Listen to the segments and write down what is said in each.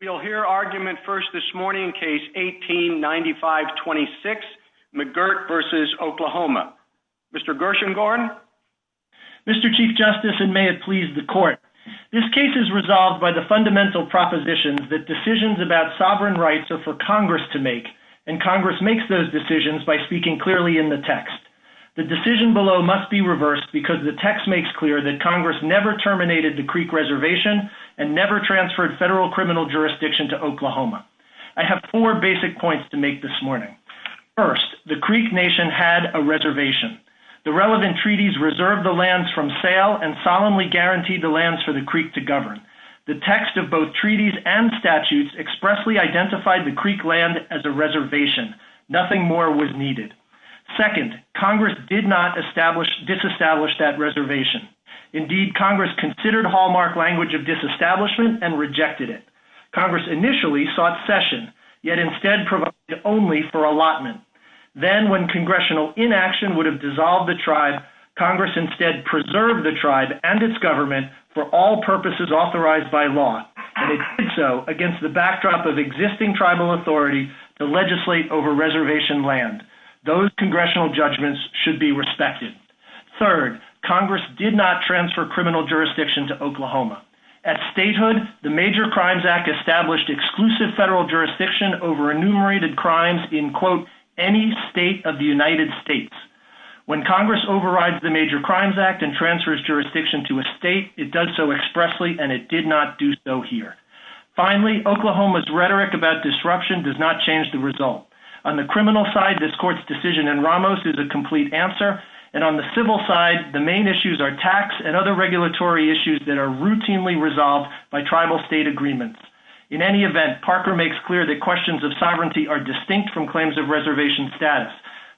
You'll hear argument first this morning case 1895-26 McGirt v. Oklahoma. Mr. Gershengorn? Mr. Chief Justice, and may it please the Court, this case is resolved by the fundamental proposition that decisions about sovereign rights are for Congress to make, and Congress makes those decisions by speaking clearly in the text. The decision below must be reversed because the text makes clear that Congress never terminated the Creek Reservation and never transferred federal criminal jurisdiction to Oklahoma. I have four basic points to make this morning. First, the Creek Nation had a reservation. The relevant treaties reserved the lands from sale and solemnly guaranteed the lands for the Creek to govern. The text of both treaties and statutes expressly identified the Creek land as a reservation. Nothing more was needed. Second, Congress did not disestablish that reservation. Indeed, Congress considered hallmark language of disestablishment and rejected it. Congress initially sought cession, yet instead provided only for allotment. Then, when congressional inaction would have dissolved the tribe, Congress instead preserved the tribe and its government for all purposes authorized by law. They did so against the backdrop of existing tribal authority to legislate over reservation land. Those congressional judgments should be respected. Third, Congress did not transfer criminal jurisdiction to Oklahoma. At statehood, the Major Crimes Act established exclusive federal jurisdiction over enumerated crimes in, quote, any state of the United States. When Congress overrides the Major Crimes Act and transfers jurisdiction to a state, it does so expressly and it did not do so here. Finally, Oklahoma's rhetoric about disruption does not change the result. On the criminal side, this court's decision in Ramos is a complete answer. On the civil side, the main issues are tax and other regulatory issues that are routinely resolved by tribal state agreements. In any event, Parker makes clear that questions of sovereignty are distinct from claims of reservation status.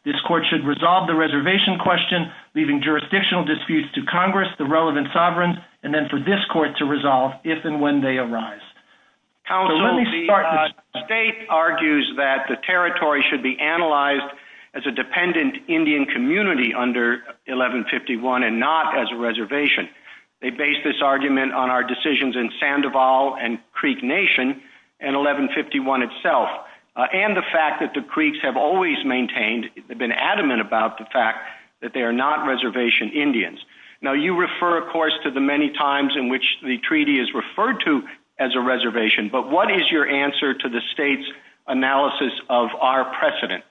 This court should resolve the reservation question, leaving jurisdictional disputes to Congress, the relevant sovereign, and then for this court to resolve if and when they arise. The state argues that the territory should be analyzed as a dependent Indian community under 1151 and not as a reservation. They base this argument on our decisions in Sandoval and Creek Nation and 1151 itself and the fact that the Creeks have always maintained, been adamant about the fact that they are not reservation Indians. You refer, of course, to the many times in which the treaty is referred to as a reservation, but what is your answer to the state's analysis of our precedent?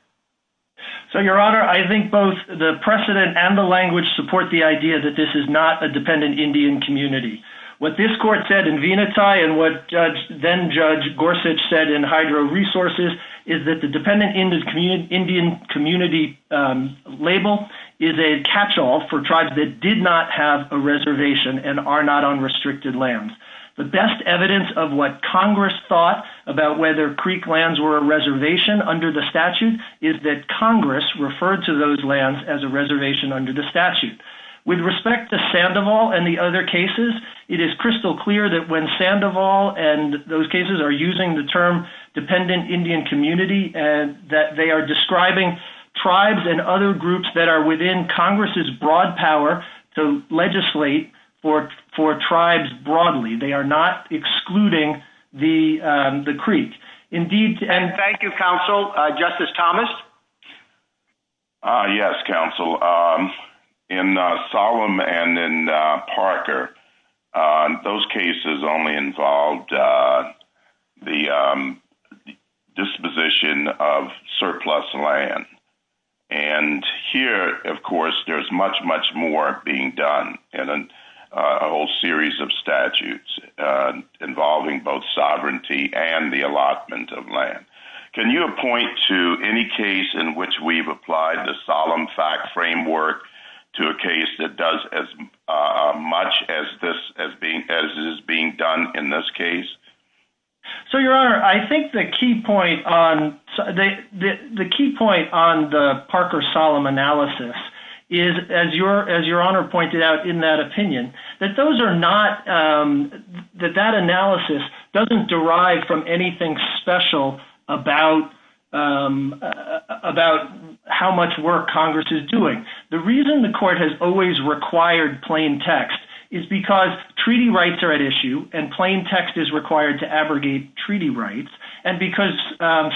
Your Honor, I think both the precedent and the language support the idea that this is not a dependent Indian community. What this court said in Veneti and what then Judge Gorsuch said in Hydro Resources is that the dependent Indian community label is a catchall for tribes that did not have a reservation and are not on restricted lands. The best evidence of what Congress thought about whether Creek lands were a reservation under the statute is that Congress referred to those lands as a reservation under the statute. With respect to Sandoval and the other cases, it is crystal clear that when Sandoval and those cases are using the term dependent Indian community and that they are describing tribes and other groups that are within Congress's broad power to legislate for tribes broadly. They are not excluding the Creek. Thank you, Counsel. Justice Thomas? Yes, Counsel. In Solemn and in Parker, those cases only involved the disposition of surplus land. And here, of course, there's much, much more being done in a whole series of statutes involving both sovereignty and the allotment of land. Can you point to any case in which we've applied the Solemn fact framework to a case that does as much as is being done in this case? So, Your Honor, I think the key point on the Parker-Solemn analysis is, as Your Honor pointed out in that opinion, that that analysis doesn't derive from anything special about how much work Congress is doing. The reason the Court has always required plain text is because treaty rights are at issue and plain text is required to abrogate treaty rights. And because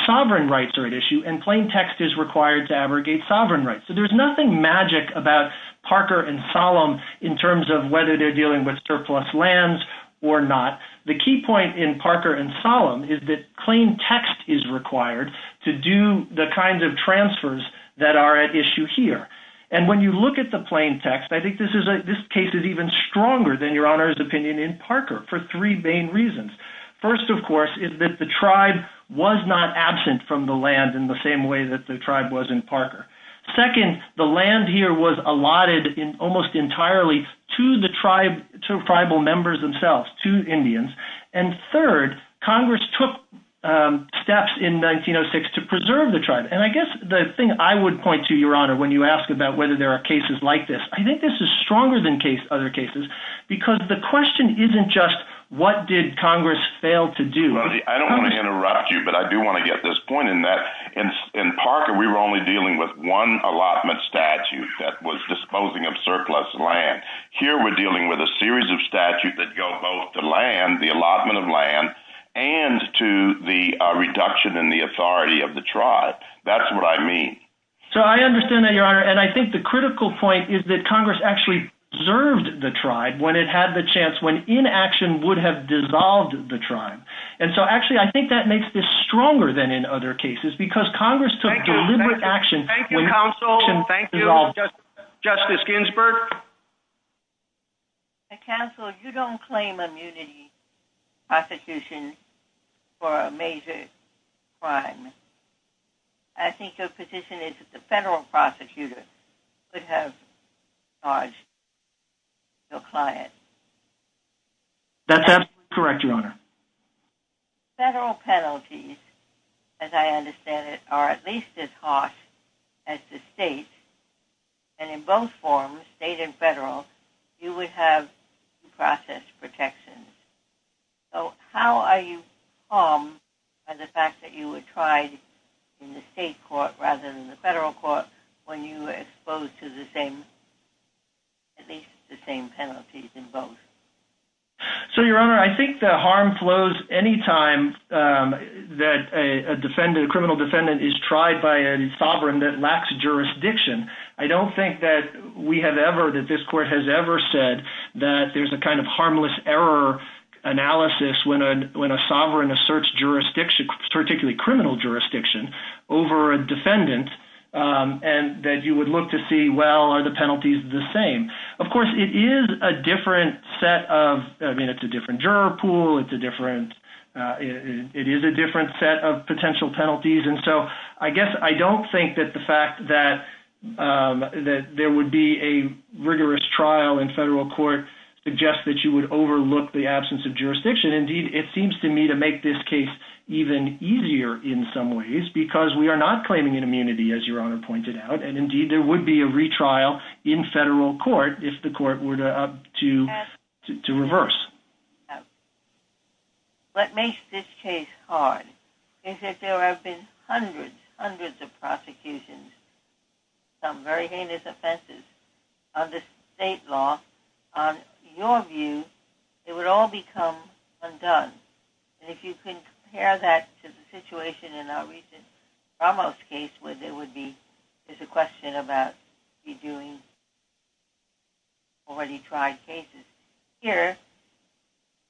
sovereign rights are at issue and plain text is required to abrogate sovereign rights. So there's nothing magic about Parker and Solemn in terms of whether they're dealing with surplus lands or not. The key point in Parker and Solemn is that plain text is required to do the kinds of transfers that are at issue here. And when you look at the plain text, I think this case is even stronger than Your Honor's opinion in Parker for three main reasons. First, of course, is that the tribe was not absent from the land in the same way that the tribe was in Parker. Second, the land here was allotted almost entirely to the tribal members themselves, to Indians. And third, Congress took steps in 1906 to preserve the tribe. And I guess the thing I would point to, Your Honor, when you ask about whether there are cases like this, I think this is stronger than other cases because the question isn't just what did Congress fail to do. I don't want to interrupt you, but I do want to get this point in that in Parker we were only dealing with one allotment statute that was disposing of surplus land. Here we're dealing with a series of statutes that go both to land, the allotment of land, and to the reduction in the authority of the tribe. That's what I mean. So I understand that, Your Honor, and I think the critical point is that Congress actually preserved the tribe when it had the chance, when inaction would have dissolved the tribe. And so actually I think that makes this stronger than in other cases because Congress took deliberate action when inaction dissolved the tribe. Thank you, Counsel. Thank you, Justice Ginsburg. Counsel, you don't claim immunity in prosecution for a major crime. I think your position is that the federal prosecutors should have charged the client. That's absolutely correct, Your Honor. Federal penalties, as I understand it, are at least as harsh as the state, and in both forms, state and federal, you would have due process protections. So how are you harmed by the fact that you were tried in the state court rather than the federal court when you were exposed to at least the same penalties in both? So, Your Honor, I think the harm flows any time that a criminal defendant is tried by a sovereign that lacks jurisdiction. I don't think that we have ever, that this court has ever said that there's a kind of harmless error analysis when a sovereign asserts jurisdiction, particularly criminal jurisdiction, over a defendant and that you would look to see, well, are the penalties the same? Of course, it is a different set of, I mean, it's a different juror pool. It's a different, it is a different set of potential penalties. And so I guess I don't think that the fact that there would be a rigorous trial in federal court suggests that you would overlook the absence of jurisdiction. Indeed, it seems to me to make this case even easier in some ways because we are not claiming an immunity, as Your Honor pointed out, and indeed there would be a retrial in federal court if the court were to reverse. What makes this case hard is that there have been hundreds, hundreds of prosecutions, some very heinous offenses under state law. On your view, it would all become undone. And if you compare that to the situation in our recent Ramos case where there would be, there's a question about redoing already tried cases, here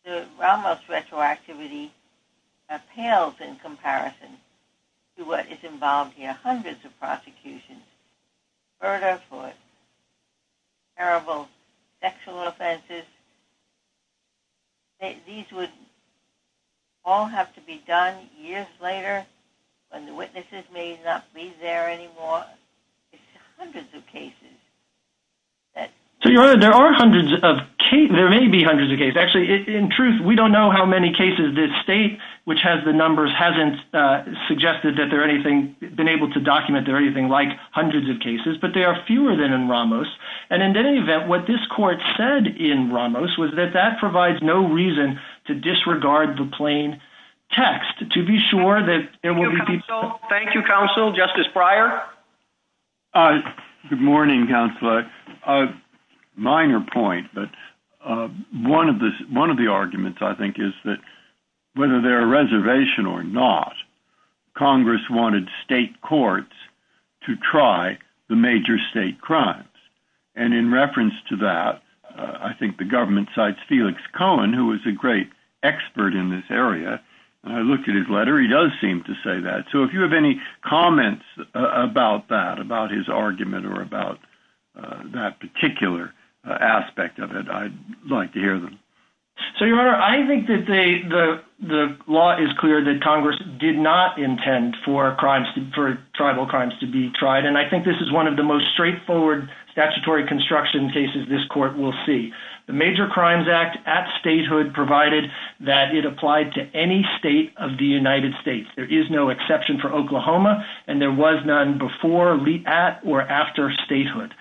the Ramos retroactivity appeals in comparison to what is involved here. All have to be done years later when the witnesses may not be there anymore. It's hundreds of cases. So Your Honor, there are hundreds of, there may be hundreds of cases. Actually, in truth, we don't know how many cases this state, which has the numbers, hasn't suggested that there are anything, been able to document there are anything like hundreds of cases, but there are fewer than in Ramos. And in any event, what this court said in Ramos was that that provides no reason to disregard the plain text. To be sure that there will be people... Thank you, counsel. Justice Breyer? Good morning, counsel. Minor point, but one of the arguments, I think, is that whether they're a reservation or not, Congress wanted state courts to try the major state crimes. And in reference to that, I think the government cites Felix Cohen, who was a great expert in this area. And I looked at his letter. He does seem to say that. So if you have any comments about that, about his argument or about that particular aspect of it, I'd like to hear them. So, Your Honor, I think that the law is clear that Congress did not intend for crimes, for tribal crimes to be tried. And I think this is one of the most straightforward statutory construction cases this court will see. The Major Crimes Act at statehood provided that it applied to any state of the United States. There is no exception for Oklahoma, and there was none before or after statehood.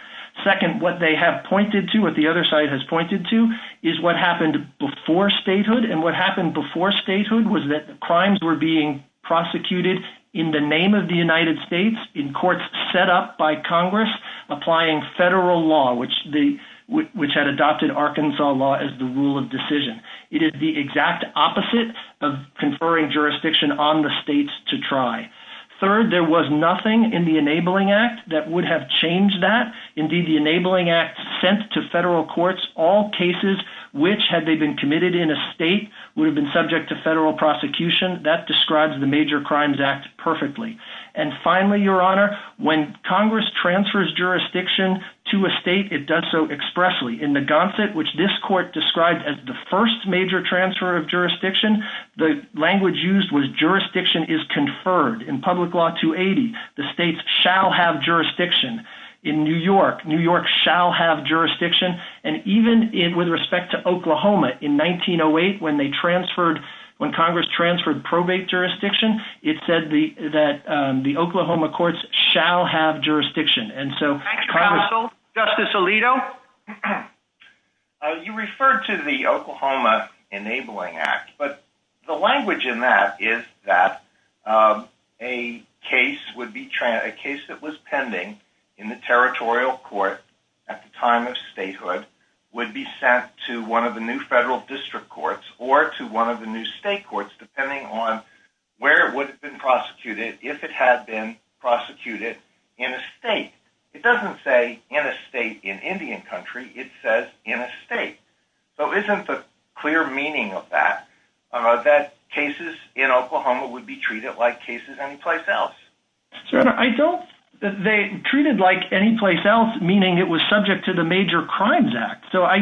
Second, what they have pointed to, what the other side has pointed to, is what happened before statehood. And what happened before statehood was that crimes were being prosecuted in the name of the United States in courts set up by Congress applying federal law, which had adopted Arkansas law as the rule of decision. It is the exact opposite of conferring jurisdiction on the states to try. Third, there was nothing in the Enabling Act that would have changed that. Indeed, the Enabling Act sent to federal courts all cases which, had they been committed in a state, would have been subject to federal prosecution. That describes the Major Crimes Act perfectly. And finally, Your Honor, when Congress transfers jurisdiction to a state, it does so expressly. In the gauntlet, which this court described as the first major transfer of jurisdiction, the language used was jurisdiction is conferred. In Public Law 280, the states shall have jurisdiction. In New York, New York shall have jurisdiction. And even with respect to Oklahoma, in 1908, when Congress transferred probate jurisdiction, it said that the Oklahoma courts shall have jurisdiction. Justice Alito? You referred to the Oklahoma Enabling Act. But the language in that is that a case that was pending in the territorial court at the time of statehood would be sent to one of the new federal district courts or to one of the new state courts, depending on where it would have been prosecuted if it had been prosecuted in a state. It doesn't say in a state in Indian country. It says in a state. So isn't the clear meaning of that, that cases in Oklahoma would be treated like cases anyplace else? They treated like anyplace else, meaning it was subject to the Major Crimes Act. So I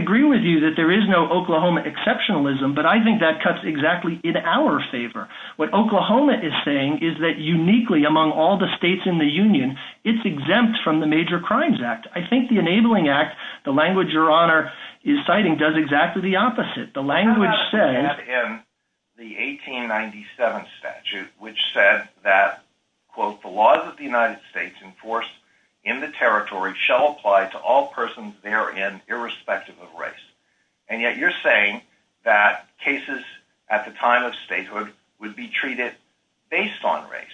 agree with you that there is no Oklahoma exceptionalism, but I think that cuts exactly in our favor. What Oklahoma is saying is that uniquely among all the states in the Union, it's exempt from the Major Crimes Act. I think the Enabling Act, the language Your Honor is citing, does exactly the opposite. The language says... In the 1897 statute, which said that, quote, the laws of the United States enforced in the territory shall apply to all persons therein irrespective of race. And yet you're saying that cases at the time of statehood would be treated based on race.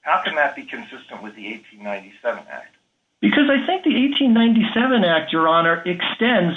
How can that be consistent with the 1897 Act? Because I think the 1897 Act, Your Honor, extends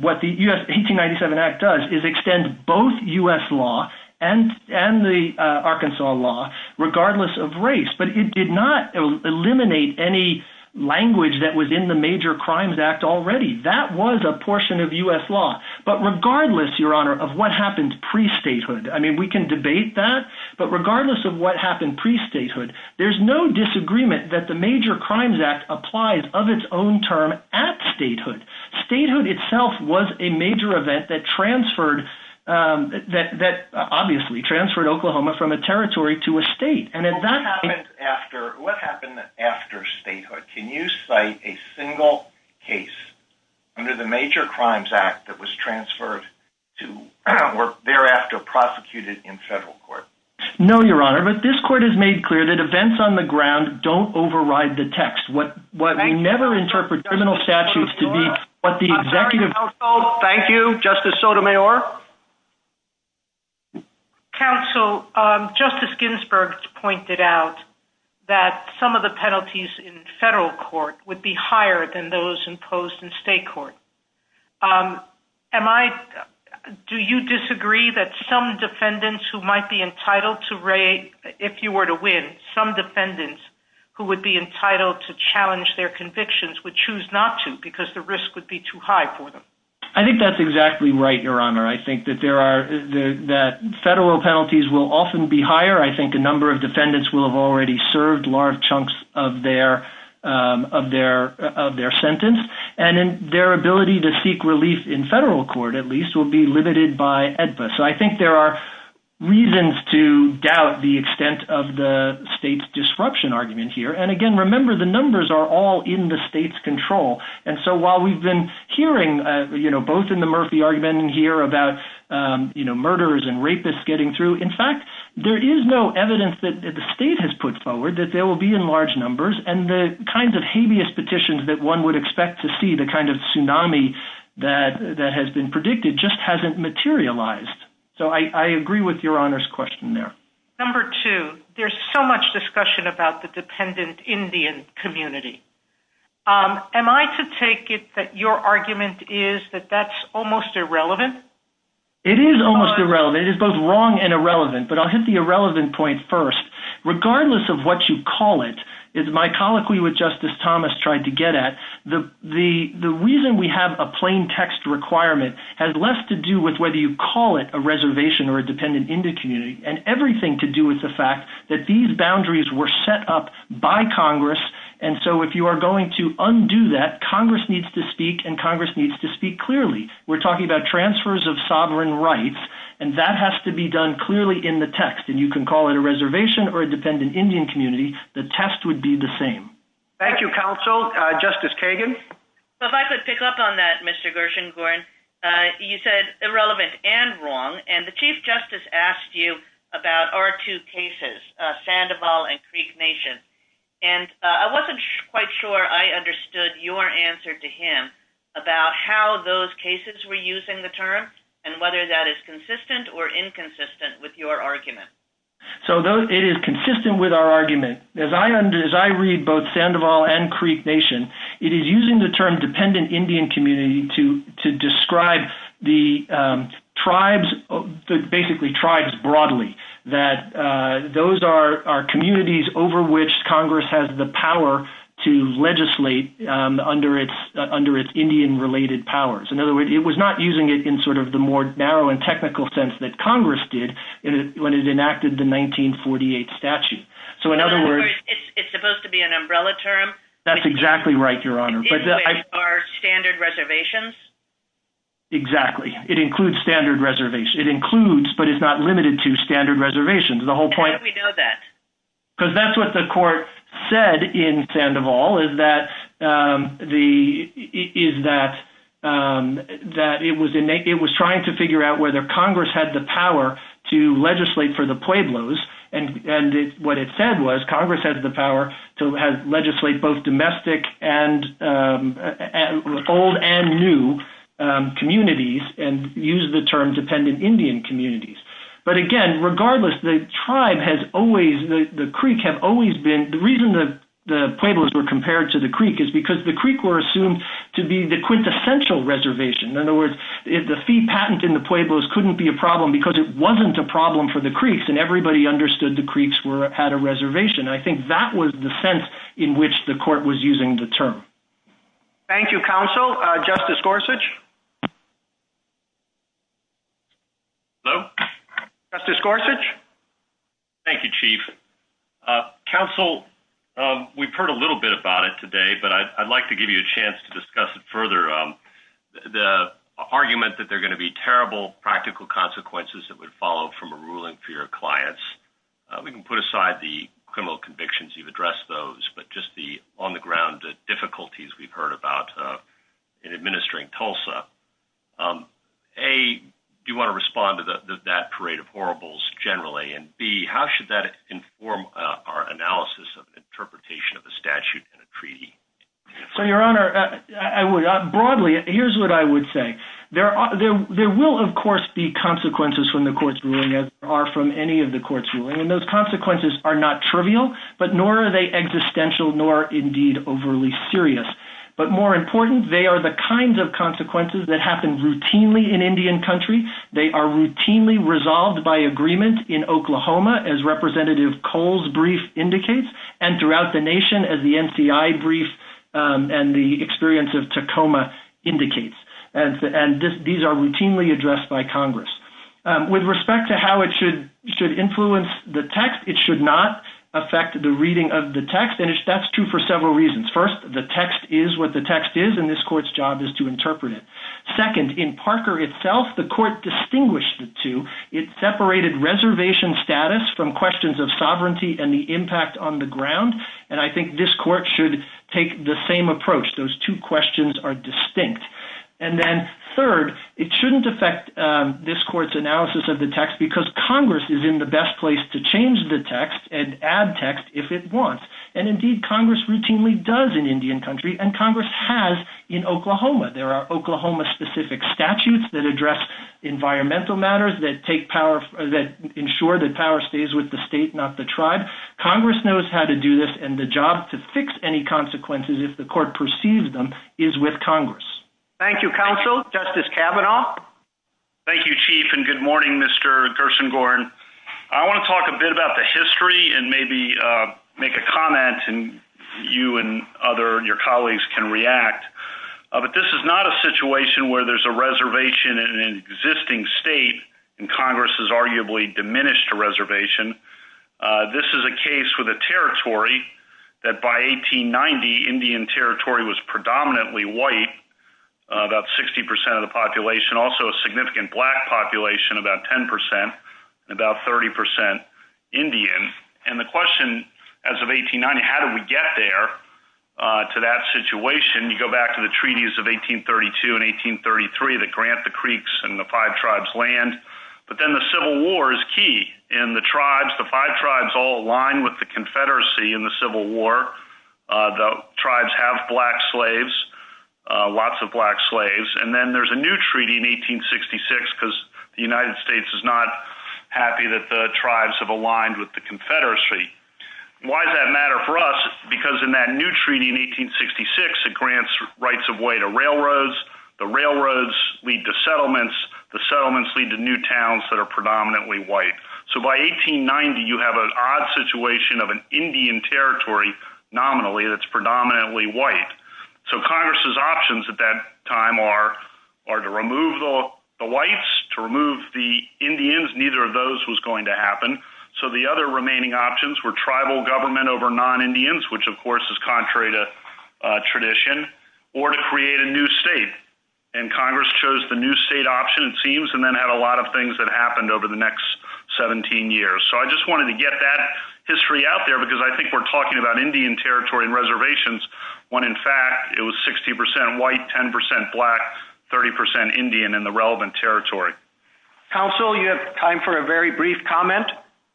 what the 1897 Act does is extends both U.S. law and the Arkansas law regardless of race. But it did not eliminate any language that was in the Major Crimes Act already. That was a portion of U.S. law. But regardless, Your Honor, of what happened pre-statehood, I mean, we can debate that, but regardless of what happened pre-statehood, there's no disagreement that the Major Crimes Act applies of its own term at statehood. Statehood itself was a major event that transferred, that obviously transferred Oklahoma from a territory to a state. What happened after statehood? Can you cite a single case under the Major Crimes Act that was transferred to or thereafter prosecuted in federal court? No, Your Honor. But this court has made clear that events on the ground don't override the text. What we never interpret criminal statutes to be, what the executive… Counsel, thank you. Justice Sotomayor. Counsel, Justice Ginsburg pointed out that some of the penalties in federal court would be higher than those imposed in state court. Do you disagree that some defendants who might be entitled to raid, if you were to win, some defendants who would be entitled to challenge their convictions would choose not to because the risk would be too high for them? I think that's exactly right, Your Honor. I think that federal penalties will often be higher. I think a number of defendants will have already served large chunks of their sentence. And their ability to seek relief in federal court, at least, will be limited by EDPA. So I think there are reasons to doubt the extent of the state's disruption argument here. And, again, remember the numbers are all in the state's control. And so while we've been hearing, you know, both in the Murphy argument here about, you know, murderers and rapists getting through, in fact, there is no evidence that the state has put forward that they will be in large numbers. And the kinds of habeas petitions that one would expect to see, the kind of tsunami that has been predicted, just hasn't materialized. So I agree with Your Honor's question there. Number two, there's so much discussion about the dependent Indian community. Am I to take it that your argument is that that's almost irrelevant? It is almost irrelevant. It is both wrong and irrelevant. But I'll hit the irrelevant point first. Regardless of what you call it, as my colloquy with Justice Thomas tried to get at, the reason we have a plain text requirement has less to do with whether you call it a reservation or a dependent Indian community and everything to do with the fact that these boundaries were set up by Congress. And so if you are going to undo that, Congress needs to speak, and Congress needs to speak clearly. We're talking about transfers of sovereign rights, and that has to be done clearly in the text. And you can call it a reservation or a dependent Indian community. The test would be the same. Thank you, Counsel. Justice Kagan? If I could pick up on that, Mr. Gershengorn. You said irrelevant and wrong, and the Chief Justice asked you about our two cases, Sandoval and Creek Nation. And I wasn't quite sure I understood your answer to him about how those cases were using the term and whether that is consistent or inconsistent with your argument. So it is consistent with our argument. As I read both Sandoval and Creek Nation, it is using the term dependent Indian community to describe the tribes, basically tribes broadly, that those are communities over which Congress has the power to legislate under its Indian-related powers. In other words, it was not using it in sort of the more narrow and technical sense that Congress did when it enacted the 1948 statute. So in other words— It's supposed to be an umbrella term? That's exactly right, Your Honor. Are standard reservations? Exactly. It includes standard reservations. It includes, but it's not limited to, standard reservations. The whole point— How do we know that? Because that's what the court said in Sandoval, is that it was trying to figure out whether Congress had the power to legislate for the Pueblos, and what it said was Congress had the power to legislate both domestic and old and new communities, and used the term dependent Indian communities. But again, regardless, the tribe has always—the Creek has always been—the reason the Pueblos were compared to the Creek is because the Creek were assumed to be the quintessential reservation. In other words, the fee patent in the Pueblos couldn't be a problem because it wasn't a problem for the Creeks, and everybody understood the Creeks had a reservation. I think that was the sense in which the court was using the term. Thank you, counsel. Justice Gorsuch? Hello? Justice Gorsuch? Thank you, Chief. Counsel, we've heard a little bit about it today, but I'd like to give you a chance to discuss it further. The argument that there are going to be terrible practical consequences that would follow from a ruling for your clients, we can put aside the criminal convictions. You've addressed those. But just the on-the-ground difficulties we've heard about in administering TULSA. A, do you want to respond to that parade of horribles generally? And B, how should that inform our analysis of the interpretation of the statute in a treaty? So, Your Honor, broadly, here's what I would say. There will, of course, be consequences from the court's ruling, as there are from any of the court's ruling. I mean, those consequences are not trivial, but nor are they existential nor, indeed, overly serious. But more important, they are the kinds of consequences that happen routinely in Indian country. They are routinely resolved by agreement in Oklahoma, as Representative Cole's brief indicates, and throughout the nation, as the NCI brief and the experience of Tacoma indicates. And these are routinely addressed by Congress. With respect to how it should influence the text, it should not affect the reading of the text, and that's true for several reasons. First, the text is what the text is, and this court's job is to interpret it. Second, in Parker itself, the court distinguished the two. It separated reservation status from questions of sovereignty and the impact on the ground, and I think this court should take the same approach. Those two questions are distinct. And then, third, it shouldn't affect this court's analysis of the text because Congress is in the best place to change the text and add text if it wants. And, indeed, Congress routinely does in Indian country, and Congress has in Oklahoma. There are Oklahoma-specific statutes that address environmental matters, that ensure that power stays with the state, not the tribe. Congress knows how to do this, and the job to fix any consequences, if the court perceives them, is with Congress. Thank you, Counsel. Justice Kavanaugh? Thank you, Chief, and good morning, Mr. Gersengorn. I want to talk a bit about the history and maybe make a comment, and you and your colleagues can react. But this is not a situation where there's a reservation in an existing state, and Congress has arguably diminished a reservation. This is a case with a territory that, by 1890, Indian territory was predominantly white, about 60% of the population, also a significant black population, about 10%, and about 30% Indian. And the question, as of 1890, how did we get there to that situation? You go back to the treaties of 1832 and 1833 that grant the creeks and the five tribes land. But then the Civil War is key, and the tribes, the five tribes, all align with the Confederacy in the Civil War. The tribes have black slaves, lots of black slaves. And then there's a new treaty in 1866 because the United States is not happy that the tribes have aligned with the Confederacy. Why does that matter for us? Because in that new treaty in 1866, it grants rights of way to railroads. The railroads lead to settlements. The settlements lead to new towns that are predominantly white. So by 1890, you have an odd situation of an Indian territory, nominally, that's predominantly white. So Congress's options at that time are to remove the whites, to remove the Indians. Neither of those was going to happen. So the other remaining options were tribal government over non-Indians, which, of course, is contrary to tradition, or to create a new state. And Congress chose the new state option, it seems, and then had a lot of things that happened over the next 17 years. So I just wanted to get that history out there because I think we're talking about Indian territory and reservations when, in fact, it was 60% white, 10% black, 30% Indian in the relevant territory. Counsel, you have time for a very brief comment?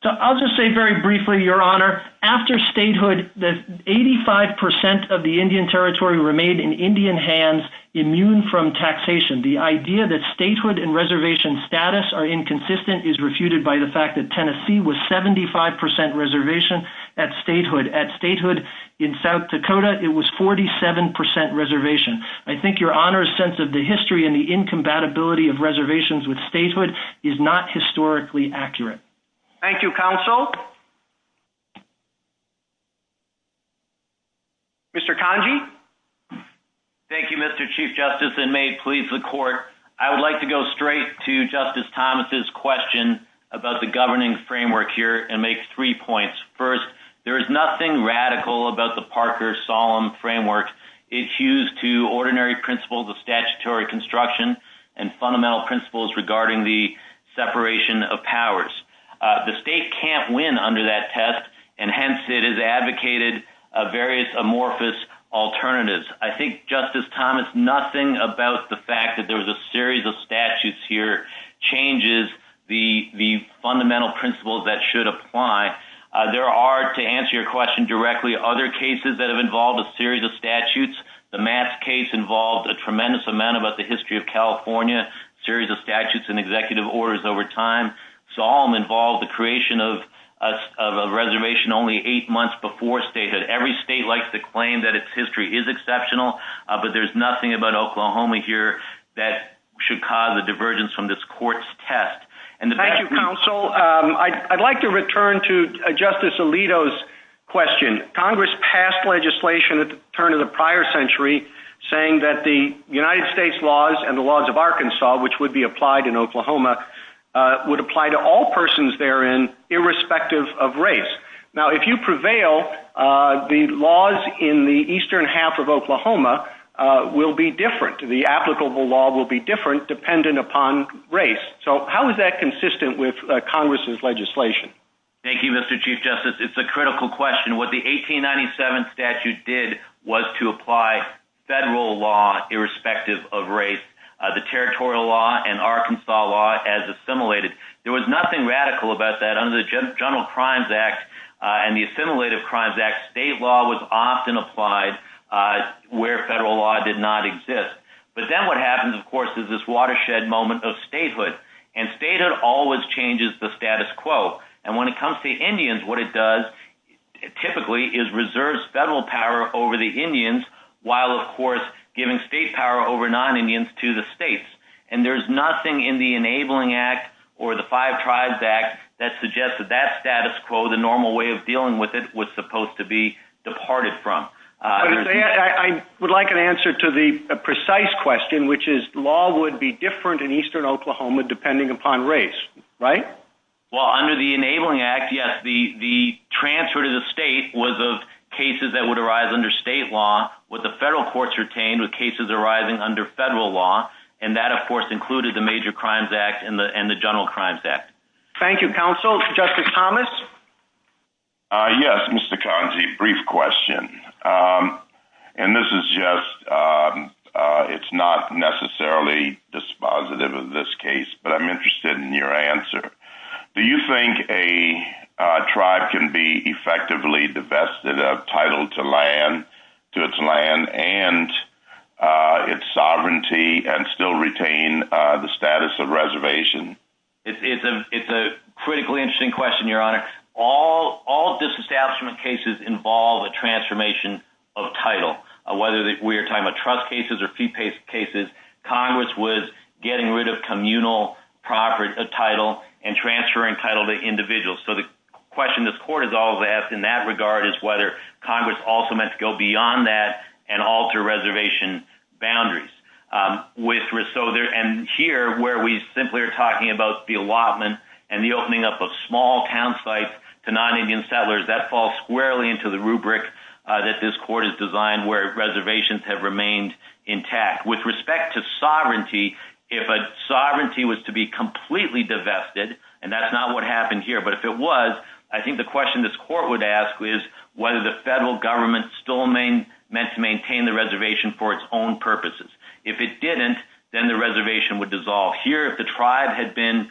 I'll just say very briefly, Your Honor, after statehood, 85% of the Indian territory remained in Indian hands, immune from taxation. The idea that statehood and reservation status are inconsistent is refuted by the fact that Tennessee was 75% reservation at statehood. At statehood in South Dakota, it was 47% reservation. I think Your Honor's sense of the history and the incompatibility of reservations with statehood is not historically accurate. Thank you, Counsel. Mr. Congee? Thank you, Mr. Chief Justice, and may it please the Court, I would like to go straight to Justice Thomas' question about the governing framework here and make three points. First, there is nothing radical about the Parker-Solom framework. It's used to ordinary principles of statutory construction and fundamental principles regarding the separation of powers. The state can't win under that test, and hence it has advocated various amorphous alternatives. I think, Justice Thomas, nothing about the fact that there was a series of statutes here changes the fundamental principles that should apply. There are, to answer your question directly, other cases that have involved a series of statutes. The Mass case involved a tremendous amount about the history of California, a series of statutes and executive orders over time. Solom involved the creation of a reservation only eight months before statehood. Every state likes to claim that its history is exceptional, but there's nothing about Oklahoma here that should cause a divergence from this Court's test. Thank you, Counsel. I'd like to return to Justice Alito's question. Congress passed legislation at the turn of the prior century saying that the United States laws and the laws of Arkansas, which would be applied in Oklahoma, would apply to all persons therein irrespective of race. Now, if you prevail, the laws in the eastern half of Oklahoma will be different. The applicable law will be different dependent upon race. So how is that consistent with Congress's legislation? Thank you, Mr. Chief Justice. It's a critical question. What the 1897 statute did was to apply federal law irrespective of race, the territorial law and Arkansas law as assimilated. There was nothing radical about that. Under the General Crimes Act and the Assimilated Crimes Act, state law was often applied where federal law did not exist. But then what happens, of course, is this watershed moment of statehood, and statehood always changes the status quo. And when it comes to Indians, what it does typically is reserves federal power over the Indians while, of course, giving state power over non-Indians to the states. And there's nothing in the Enabling Act or the Five Tribes Act that suggests that that status quo, the normal way of dealing with it, was supposed to be departed from. I would like an answer to the precise question, which is law would be different in eastern Oklahoma depending upon race, right? Well, under the Enabling Act, yes, the transfer to the state was of cases that would arise under state law, with the federal courts retained with cases arising under federal law. And that, of course, included the Major Crimes Act and the General Crimes Act. Thank you, counsel. Justice Thomas? Yes, Mr. Kanji, brief question. And this is just – it's not necessarily dispositive of this case, but I'm interested in your answer. Do you think a tribe can be effectively divested of title to its land and its sovereignty and still retain the status of reservation? It's a critically interesting question, Your Honor. All disestablishment cases involve a transformation of title, whether we are talking about trust cases or fee cases. Congress was getting rid of communal title and transferring title to individuals. So the question this court has always asked in that regard is whether Congress also must go beyond that and alter reservation boundaries. And here, where we simply are talking about the allotment and the opening up of small town sites to non-Indian settlers, that falls squarely into the rubric that this court has designed where reservations have remained intact. With respect to sovereignty, if a sovereignty was to be completely divested and that's not what happened here, but if it was, I think the question this court would ask is whether the federal government still meant to maintain the reservation for its own purposes. If it didn't, then the reservation would dissolve. Here, if the tribe had been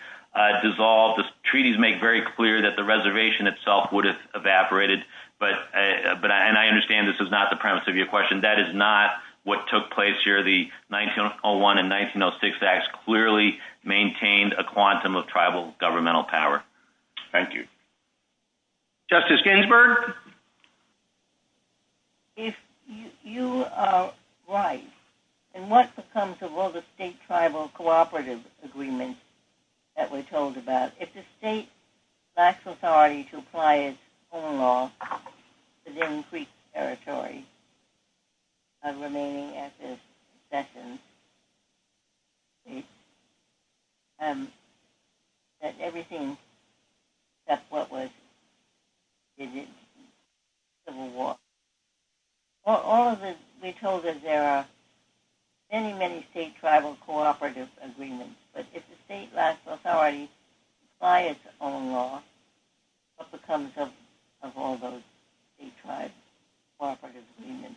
dissolved, the treaties make very clear that the reservation itself would have evaporated. And I understand this is not the premise of your question. That is not what took place here. The 1901 and 1906 Acts clearly maintained a quantum of tribal governmental power. Thank you. Justice Ginsburg? If you are right, in what becomes of all the state-tribal cooperative agreements that we're told about, if the state lacks authority to apply its own law to the increased territory remaining at this session, then everything except what was civil war. All of this, we're told that there are many, many state-tribal cooperative agreements. But if the state lacks authority to apply its own law, what becomes of all those state-tribe cooperative agreements?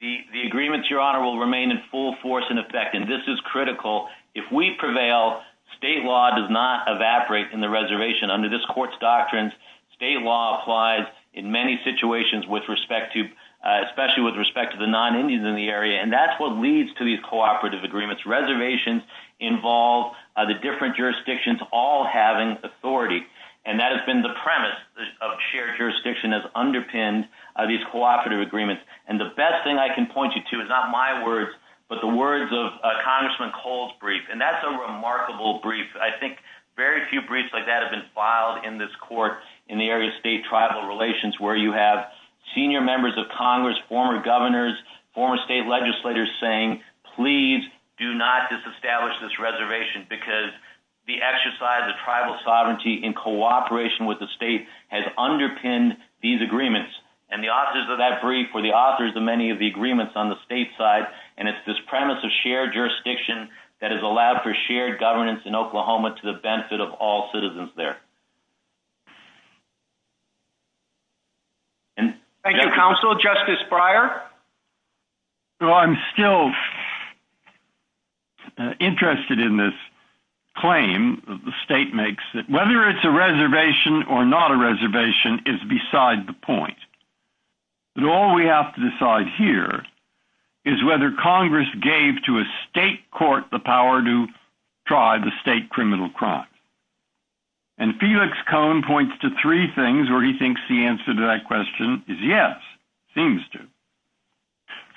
The agreements, Your Honor, will remain in full force and effect, and this is critical. If we prevail, state law does not evaporate from the reservation. Under this court's doctrines, state law applies in many situations with respect to, especially with respect to the non-Indians in the area, and that's what leads to these cooperative agreements. Reservations involve the different jurisdictions all having authority, and that has been the premise of shared jurisdiction that's underpinned these cooperative agreements. And the best thing I can point you to is not my words, but the words of Congressman Cole's brief, and that's a remarkable brief. I think very few briefs like that have been filed in this court in the area of state-tribal relations, where you have senior members of Congress, former governors, former state legislators saying, please do not disestablish this reservation because the exercise of tribal sovereignty in cooperation with the state has underpinned these agreements. And the authors of that brief were the authors of many of the agreements on the state side, and it's this premise of shared jurisdiction that has allowed for shared governance in Oklahoma to the benefit of all citizens there. Thank you. Thank you, counsel. Justice Breyer? I'm still interested in this claim the state makes that whether it's a reservation or not a reservation is beside the point. But all we have to decide here is whether Congress gave to a state court the power to try the state criminal crime. And Felix Cohn points to three things where he thinks the answer to that question is yes, seems to.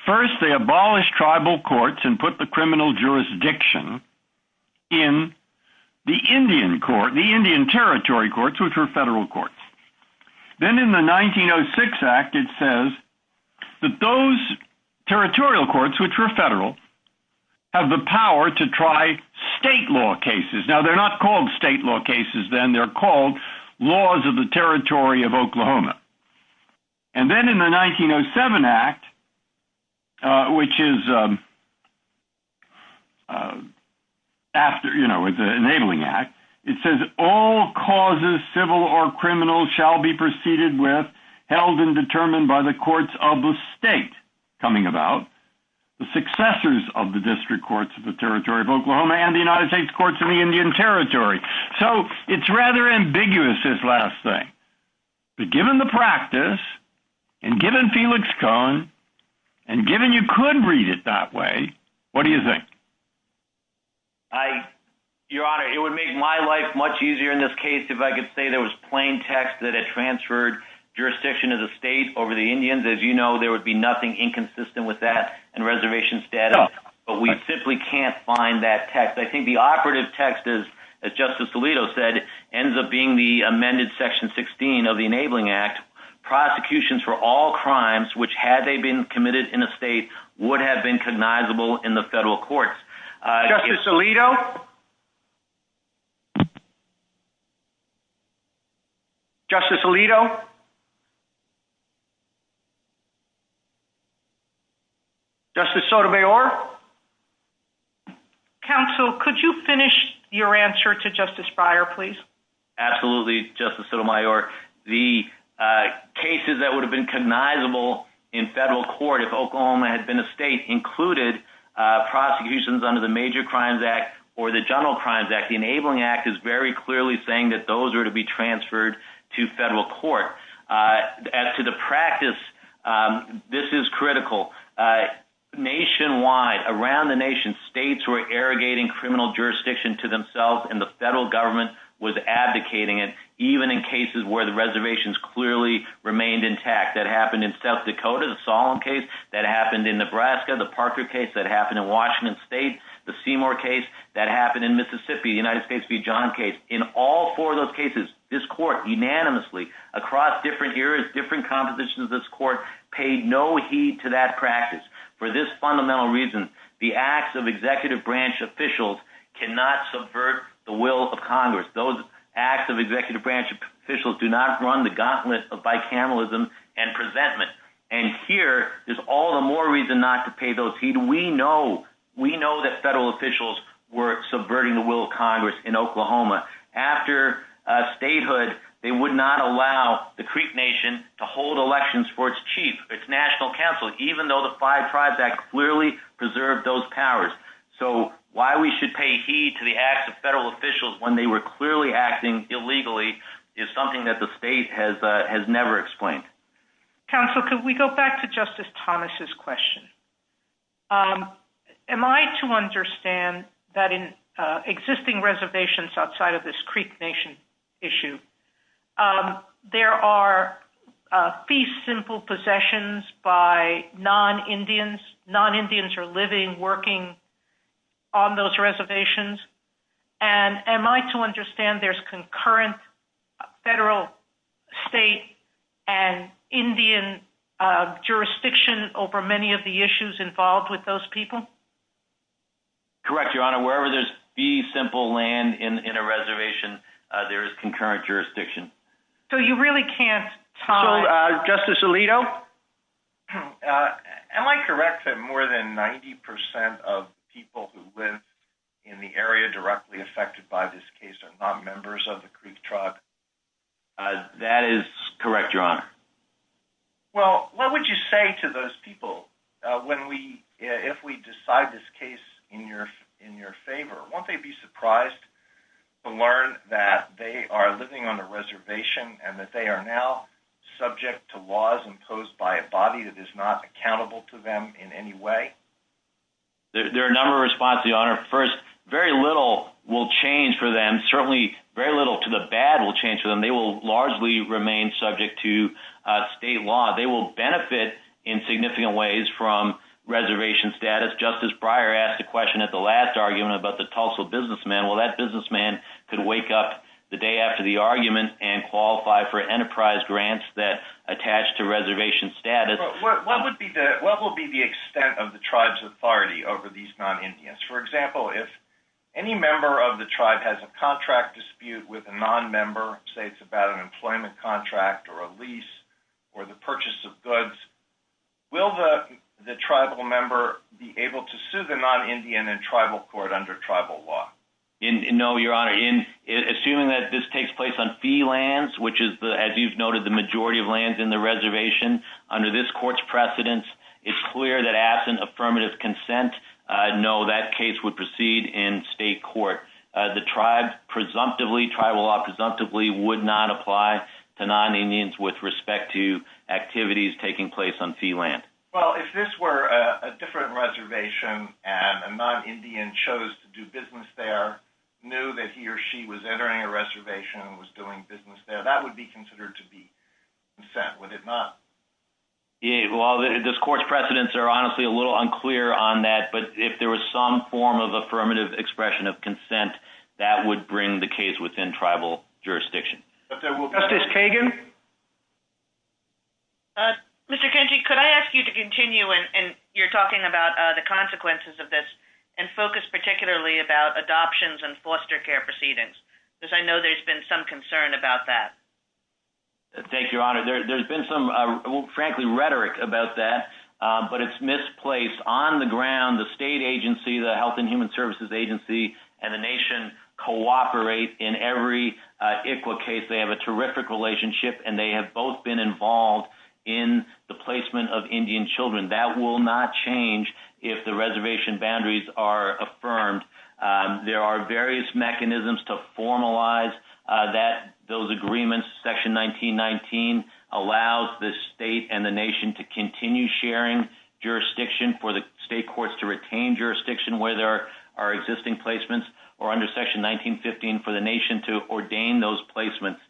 First, they abolished tribal courts and put the criminal jurisdiction in the Indian court, the Indian territory courts, which were federal courts. Then in the 1906 Act, it says that those territorial courts, which were federal, have the power to try state law cases. Now, they're not called state law cases then. They're called laws of the Territory of Oklahoma. And then in the 1907 Act, which is after the Enabling Act, it says all causes, civil or criminal, shall be proceeded with, held and determined by the courts of the state coming about, the successors of the district courts of the Territory of Oklahoma and the United States Courts of the Indian Territory. So it's rather ambiguous, this last thing. But given the practice and given Felix Cohn and given you could read it that way, what do you think? Your Honor, it would make my life much easier in this case if I could say there was plain text that had transferred jurisdiction of the state over the Indians. As you know, there would be nothing inconsistent with that in reservation status, but we simply can't find that text. I think the operative text, as Justice Alito said, ends up being the amended Section 16 of the Enabling Act. Prosecutions for all crimes, which had they been committed in the state, would have been cognizable in the federal courts. Justice Alito? Justice Alito? Justice Sotomayor? Counsel, could you finish your answer to Justice Breyer, please? Absolutely, Justice Sotomayor. The cases that would have been cognizable in federal court if Oklahoma had been a state included prosecutions under the Major Crimes Act or the General Crimes Act. The Enabling Act is very clearly saying that those are to be transferred to federal court. As to the practice, this is critical. Nationwide, around the nation, states were irrigating criminal jurisdiction to themselves and the federal government was advocating it, even in cases where the reservations clearly remained intact. The Enabling Act that happened in South Dakota, the Solemn case that happened in Nebraska, the Parker case that happened in Washington State, the Seymour case that happened in Mississippi, the United States v. John case. In all four of those cases, this court unanimously, across different areas, different compositions of this court, paid no heed to that practice. For this fundamental reason, the acts of executive branch officials cannot subvert the will of Congress. Those acts of executive branch officials do not run the gauntlet of bicameralism and presentment. And here is all the more reason not to pay those heed. We know that federal officials were subverting the will of Congress in Oklahoma. After statehood, they would not allow the Creep Nation to hold elections for its chief, its national counsel, even though the Five Tribes Act clearly preserved those powers. So why we should pay heed to the acts of federal officials when they were clearly acting illegally is something that the state has never explained. Counsel, could we go back to Justice Thomas' question? Am I to understand that in existing reservations outside of this Creep Nation issue, there are fee-simple possessions by non-Indians? Non-Indians are living, working on those reservations. And am I to understand there's concurrent federal, state, and Indian jurisdiction over many of the issues involved with those people? Correct, Your Honor. Wherever there's fee-simple land in a reservation, there is concurrent jurisdiction. So you really can't tie... So, Justice Alito? Am I correct that more than 90% of people who live in the area directly affected by this case are not members of the Creep Tribe? That is correct, Your Honor. Well, what would you say to those people if we decide this case in their favor? Won't they be surprised to learn that they are living on a reservation and that they are now subject to laws imposed by a body that is not accountable to them in any way? There are a number of responses, Your Honor. First, very little will change for them. Certainly very little to the bad will change for them. They will largely remain subject to state law. They will benefit in significant ways from reservation status. Justice Breyer asked a question at the last argument about the Tulsa businessman. Well, that businessman could wake up the day after the argument and qualify for enterprise grants that attach to reservation status. What will be the extent of the tribe's authority over these non-Indians? For example, if any member of the tribe has a contract dispute with a non-member, say it's about an employment contract or a lease or the purchase of goods, will the tribal member be able to sue the non-Indian in tribal court under tribal law? No, Your Honor. Assuming that this takes place on fee lands, which is, as you've noted, the majority of lands within the reservation under this court's precedence, it's clear that absent affirmative consent, no, that case would proceed in state court. The tribe presumptively, tribal law presumptively, would not apply to non-Indians with respect to activities taking place on fee land. Well, if this were a different reservation and a non-Indian chose to do business there, knew that he or she was entering a reservation and was doing business there, that would be considered to be consent, would it not? Well, this court's precedence are honestly a little unclear on that, but if there was some form of affirmative expression of consent, that would bring the case within tribal jurisdiction. Justice Kagan? Mr. Kennedy, could I ask you to continue, and you're talking about the consequences of this, and focus particularly about adoptions and foster care proceedings, because I know there's been some concern about that. Thank you, Your Honor. There's been some, frankly, rhetoric about that, but it's misplaced. On the ground, the state agency, the Health and Human Services Agency, and the nation cooperate in every ICWA case. They have a terrific relationship, and they have both been involved in the placement of Indian children. That will not change if the reservation boundaries are affirmed. There are various mechanisms to formalize those agreements. Section 1919 allows the state and the nation to continue sharing jurisdiction for the state courts to retain jurisdiction where there are existing placements, or under Section 1915 for the nation to ordain those placements.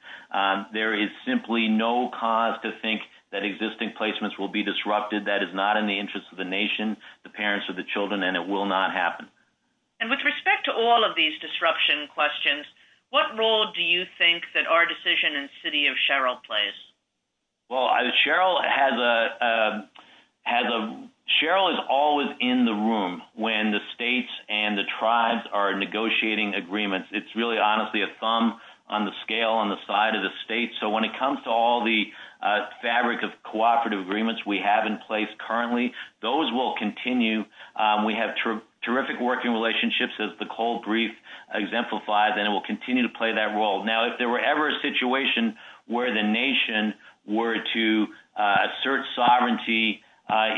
There is simply no cause to think that existing placements will be disrupted. That is not in the interest of the nation, the parents, or the children, and it will not happen. With respect to all of these disruption questions, what role do you think that our decision in City of Sherrill plays? Sherrill is always in the room when the states and the tribes are negotiating agreements. It's really, honestly, a thumb on the scale on the side of the states. When it comes to all the fabric of cooperative agreements we have in place currently, those will continue. We have terrific working relationships, as the Cold Brief exemplifies, and it will continue to play that role. Now, if there were ever a situation where the nation were to assert sovereignty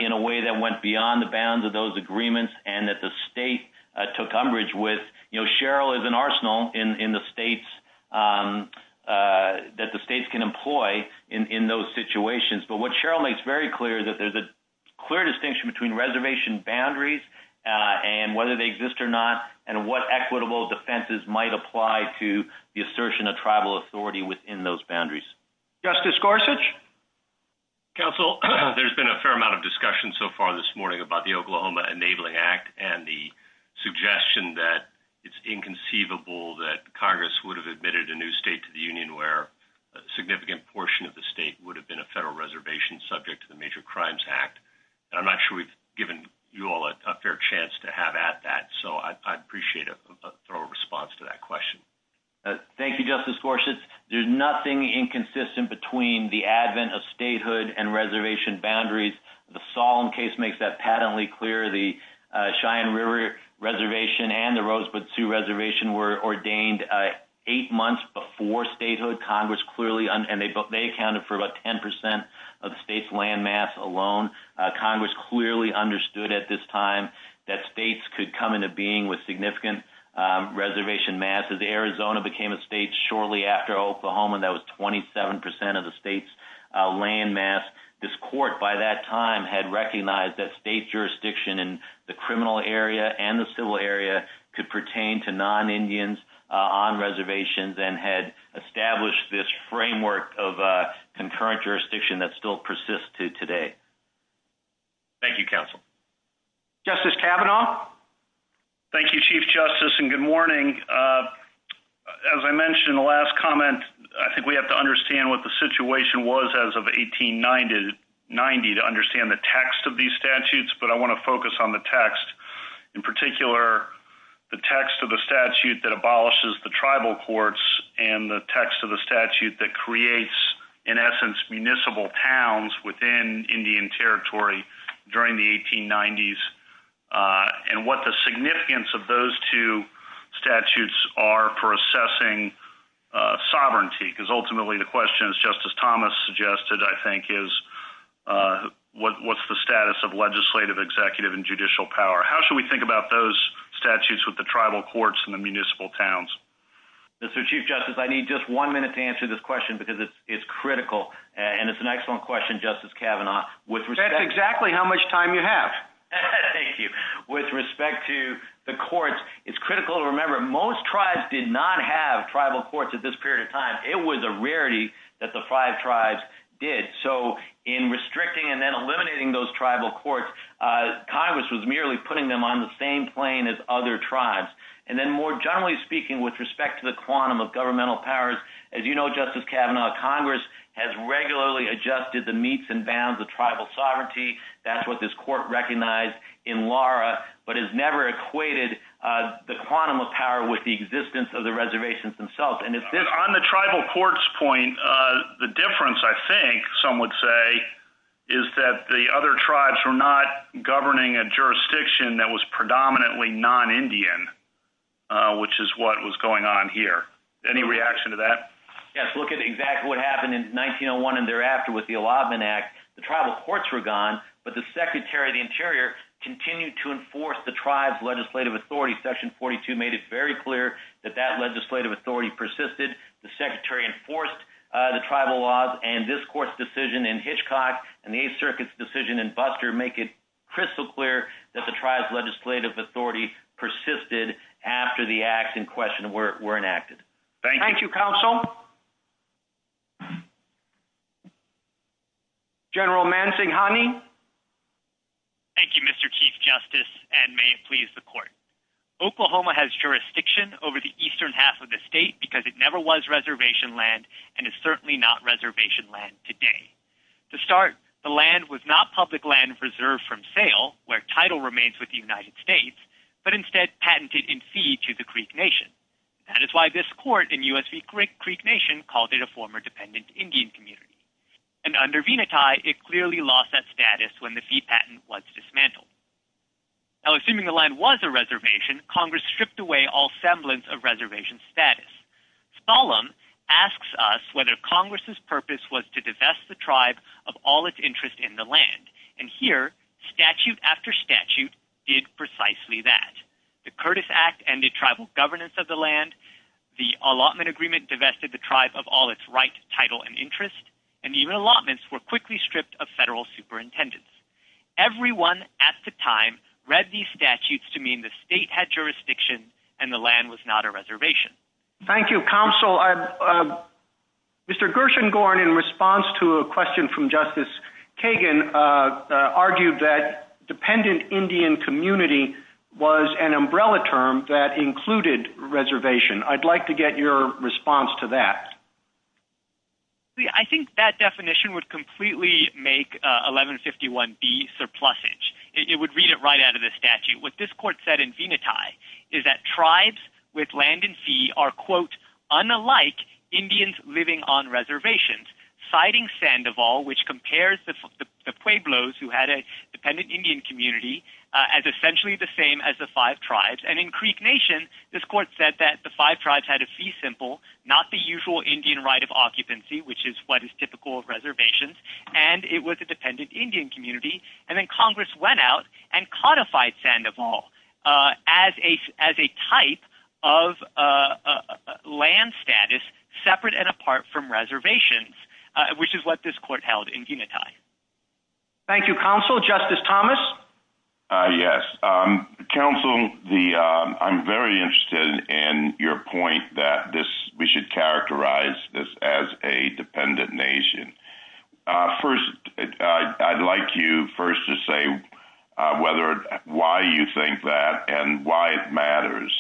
in a way that went beyond the bounds of those agreements and that the state took umbrage with, Sherrill is an arsenal that the states can employ in those situations. But what Sherrill makes very clear is that there's a clear distinction between reservation boundaries and whether they exist or not, and what equitable defenses might apply to the assertion of tribal authority within those boundaries. Justice Gorsuch? Counsel, there's been a fair amount of discussion so far this morning about the Oklahoma Enabling Act and the suggestion that it's inconceivable that Congress would have admitted a new state to the Union where a significant portion of the state would have been a federal reservation subject to the Major Crimes Act. I'm not sure we've given you all a fair chance to have at that, so I'd appreciate a thorough response to that question. Thank you, Justice Gorsuch. There's nothing inconsistent between the advent of statehood and reservation boundaries. The Solemn case makes that patently clear. The Cheyenne River Reservation and the Rosebud Sioux Reservation were ordained eight months before statehood. They accounted for about 10% of the state's landmass alone. Congress clearly understood at this time that states could come into being with significant reservation mass. As Arizona became a state shortly after Oklahoma, that was 27% of the state's landmass. This court by that time had recognized that state jurisdiction in the criminal area and the civil area could pertain to non-Indians on reservations and had established this framework of concurrent jurisdiction that still persists to today. Thank you, counsel. Justice Kavanaugh. Thank you, Chief Justice, and good morning. As I mentioned in the last comment, I think we have to understand what the situation was as of 1890 to understand the text of these statutes, but I want to focus on the text, in particular the text of the statute that abolishes the tribal courts and the text of the statute that creates, in essence, municipal towns within Indian Territory during the 1890s and what the significance of those two statutes are for assessing sovereignty, because ultimately the question, as Justice Thomas suggested, I think, is what's the status of legislative, executive, and judicial power? How should we think about those statutes with the tribal courts and the municipal towns? Mr. Chief Justice, I need just one minute to answer this question because it's critical, and it's an excellent question, Justice Kavanaugh. That's exactly how much time you have. Thank you. With respect to the courts, it's critical to remember most tribes did not have tribal courts at this period of time. It was a rarity that the five tribes did. So in restricting and then eliminating those tribal courts, Congress was merely putting them on the same plane as other tribes. And then more generally speaking, with respect to the quantum of governmental powers, as you know, Justice Kavanaugh, Congress has regularly adjusted the meets and bounds of tribal sovereignty. That's what this court recognized in Lara, but has never equated the quantum of power with the existence of the reservations themselves. On the tribal courts point, the difference, I think, some would say, is that the other tribes were not governing a jurisdiction that was predominantly non-Indian, which is what was going on here. Any reaction to that? Yes. Look at exactly what happened in 1901 and thereafter with the Allotment Act. The tribal courts were gone, but the Secretary of the Interior continued to enforce the tribe's legislative authority. Section 42 made it very clear that that legislative authority persisted. The Secretary enforced the tribal laws, and this court's decision in Hitchcock and the Eighth Circuit's decision in Buster make it crystal clear that the tribe's legislative authority persisted after the act in question were enacted. Thank you. Thank you, Counsel. General Mansinghani. Thank you, Mr. Chief Justice, and may it please the Court. Oklahoma has jurisdiction over the eastern half of the state because it never was reservation land and is certainly not reservation land today. To start, the land was not public land reserved from sale, where title remains with the United States, but instead patented in fee to the Creek Nation. That is why this court in U.S.C. Creek Nation called it a former dependent Indian community. And under Venati, it clearly lost that status when the fee patent was dismantled. Now, assuming the land was a reservation, Congress stripped away all semblance of reservation status. Spallum asks us whether Congress's purpose was to divest the tribe of all its interest in the land. And here, statute after statute did precisely that. The Curtis Act ended tribal governance of the land, the allotment agreement divested the tribe of all its right, title, and interest, and even allotments were quickly stripped of federal superintendence. Everyone at the time read these statutes to mean the state had jurisdiction and the land was not a reservation. Thank you, Counsel. Mr. Gershengorn, in response to a question from Justice Kagan, argued that dependent Indian community was an umbrella term that included reservation. I'd like to get your response to that. I think that definition would completely make 1151B surplusage. It would read it right out of the statute. What this court said in Venati is that tribes with land and sea are, quote, unalike Indians living on reservations, citing Sandoval, which compares the Pueblos, who had a dependent Indian community, as essentially the same as the five tribes. And in Creek Nation, this court said that the five tribes had a sea symbol, not the usual Indian right of occupancy, which is what is typical of reservations, and it was a dependent Indian community. And then Congress went out and codified Sandoval as a type of land status separate and apart from reservations, which is what this court held in Venati. Thank you, Counsel. Justice Thomas? Yes. Counsel, I'm very interested in your point that we should characterize this as a dependent nation. First, I'd like you first to say why you think that and why it matters.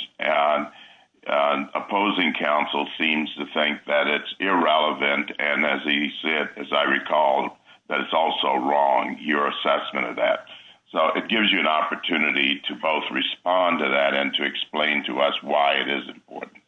Opposing Counsel seems to think that it's irrelevant, and as he said, as I recall, that it's also wrong, your assessment of that. So it gives you an opportunity to both respond to that and to explain to us why it is important.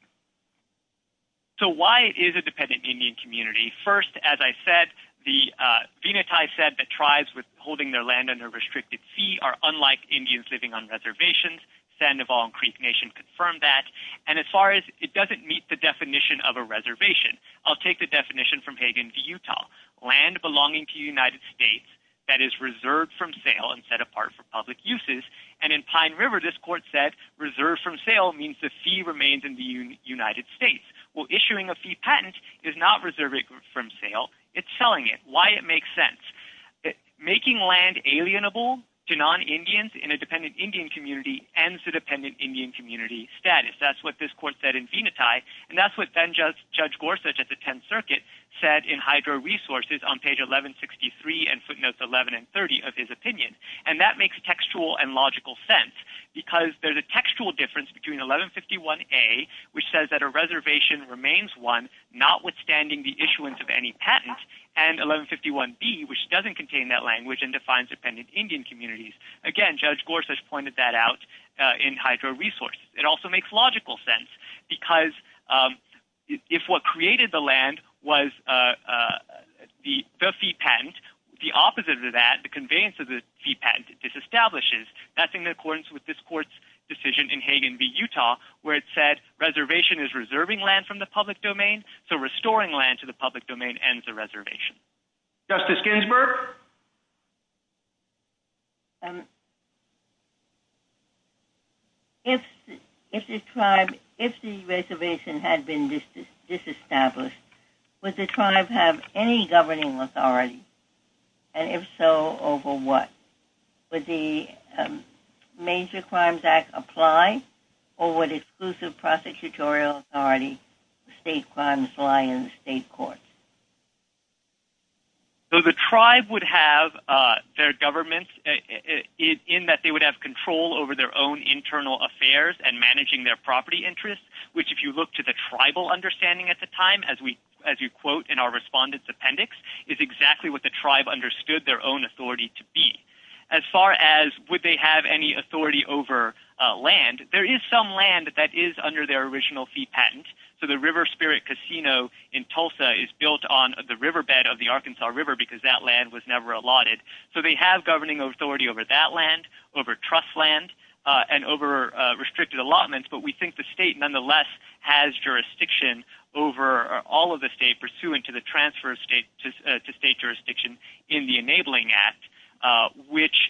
So why is it a dependent Indian community? First, as I said, Venati said that tribes with holding their land under a restricted fee are unlike Indians living on reservations. Sandoval and Creek Nation confirmed that. And as far as it doesn't meet the definition of a reservation, I'll take the definition from Hagan v. Utah, land belonging to the United States that is reserved from sale and set apart for public uses. And in Pine River, this court said reserved from sale means the fee remains in the United States. Well, issuing a fee patent is not reserved from sale. It's selling it. Why it makes sense. Making land alienable to non-Indians in a dependent Indian community ends the dependent Indian community status. That's what this court said in Venati, and that's what Judge Gorsuch at the 10th Circuit said in Hydro Resources on page 1163 and footnotes 11 and 30 of his opinion. And that makes textual and logical sense because there's a textual difference between 1151A, which says that a reservation remains one, notwithstanding the issuance of any patent, and 1151B, which doesn't contain that language and defines dependent Indian communities. Again, Judge Gorsuch pointed that out in Hydro Resources. It also makes logical sense because if what created the land was the fee patent, the opposite of that, the conveyance of the fee patent, it disestablishes. That's in accordance with this court's decision in Hagan v. Utah, where it said reservation is reserving land from the public domain, so restoring land to the public domain ends the reservation. Justice Ginsburg? If the reservation had been disestablished, would the tribe have any governing authority? And if so, over what? Would the Major Crimes Act apply or would exclusive prosecutorial authority apply in the state courts? The tribe would have their government in that they would have control over their own internal affairs and managing their property interests, which if you look to the tribal understanding at the time, as you quote in our respondent's appendix, is exactly what the tribe understood their own authority to be. As far as would they have any authority over land, there is some land that is under their original fee patent. So the River Spirit Casino in Tulsa is built on the riverbed of the Arkansas River because that land was never allotted. So they have governing authority over that land, over trust land, and over restricted allotments, but we think the state nonetheless has jurisdiction over all of the state pursuant to the transfer of state jurisdiction in the Enabling Act, which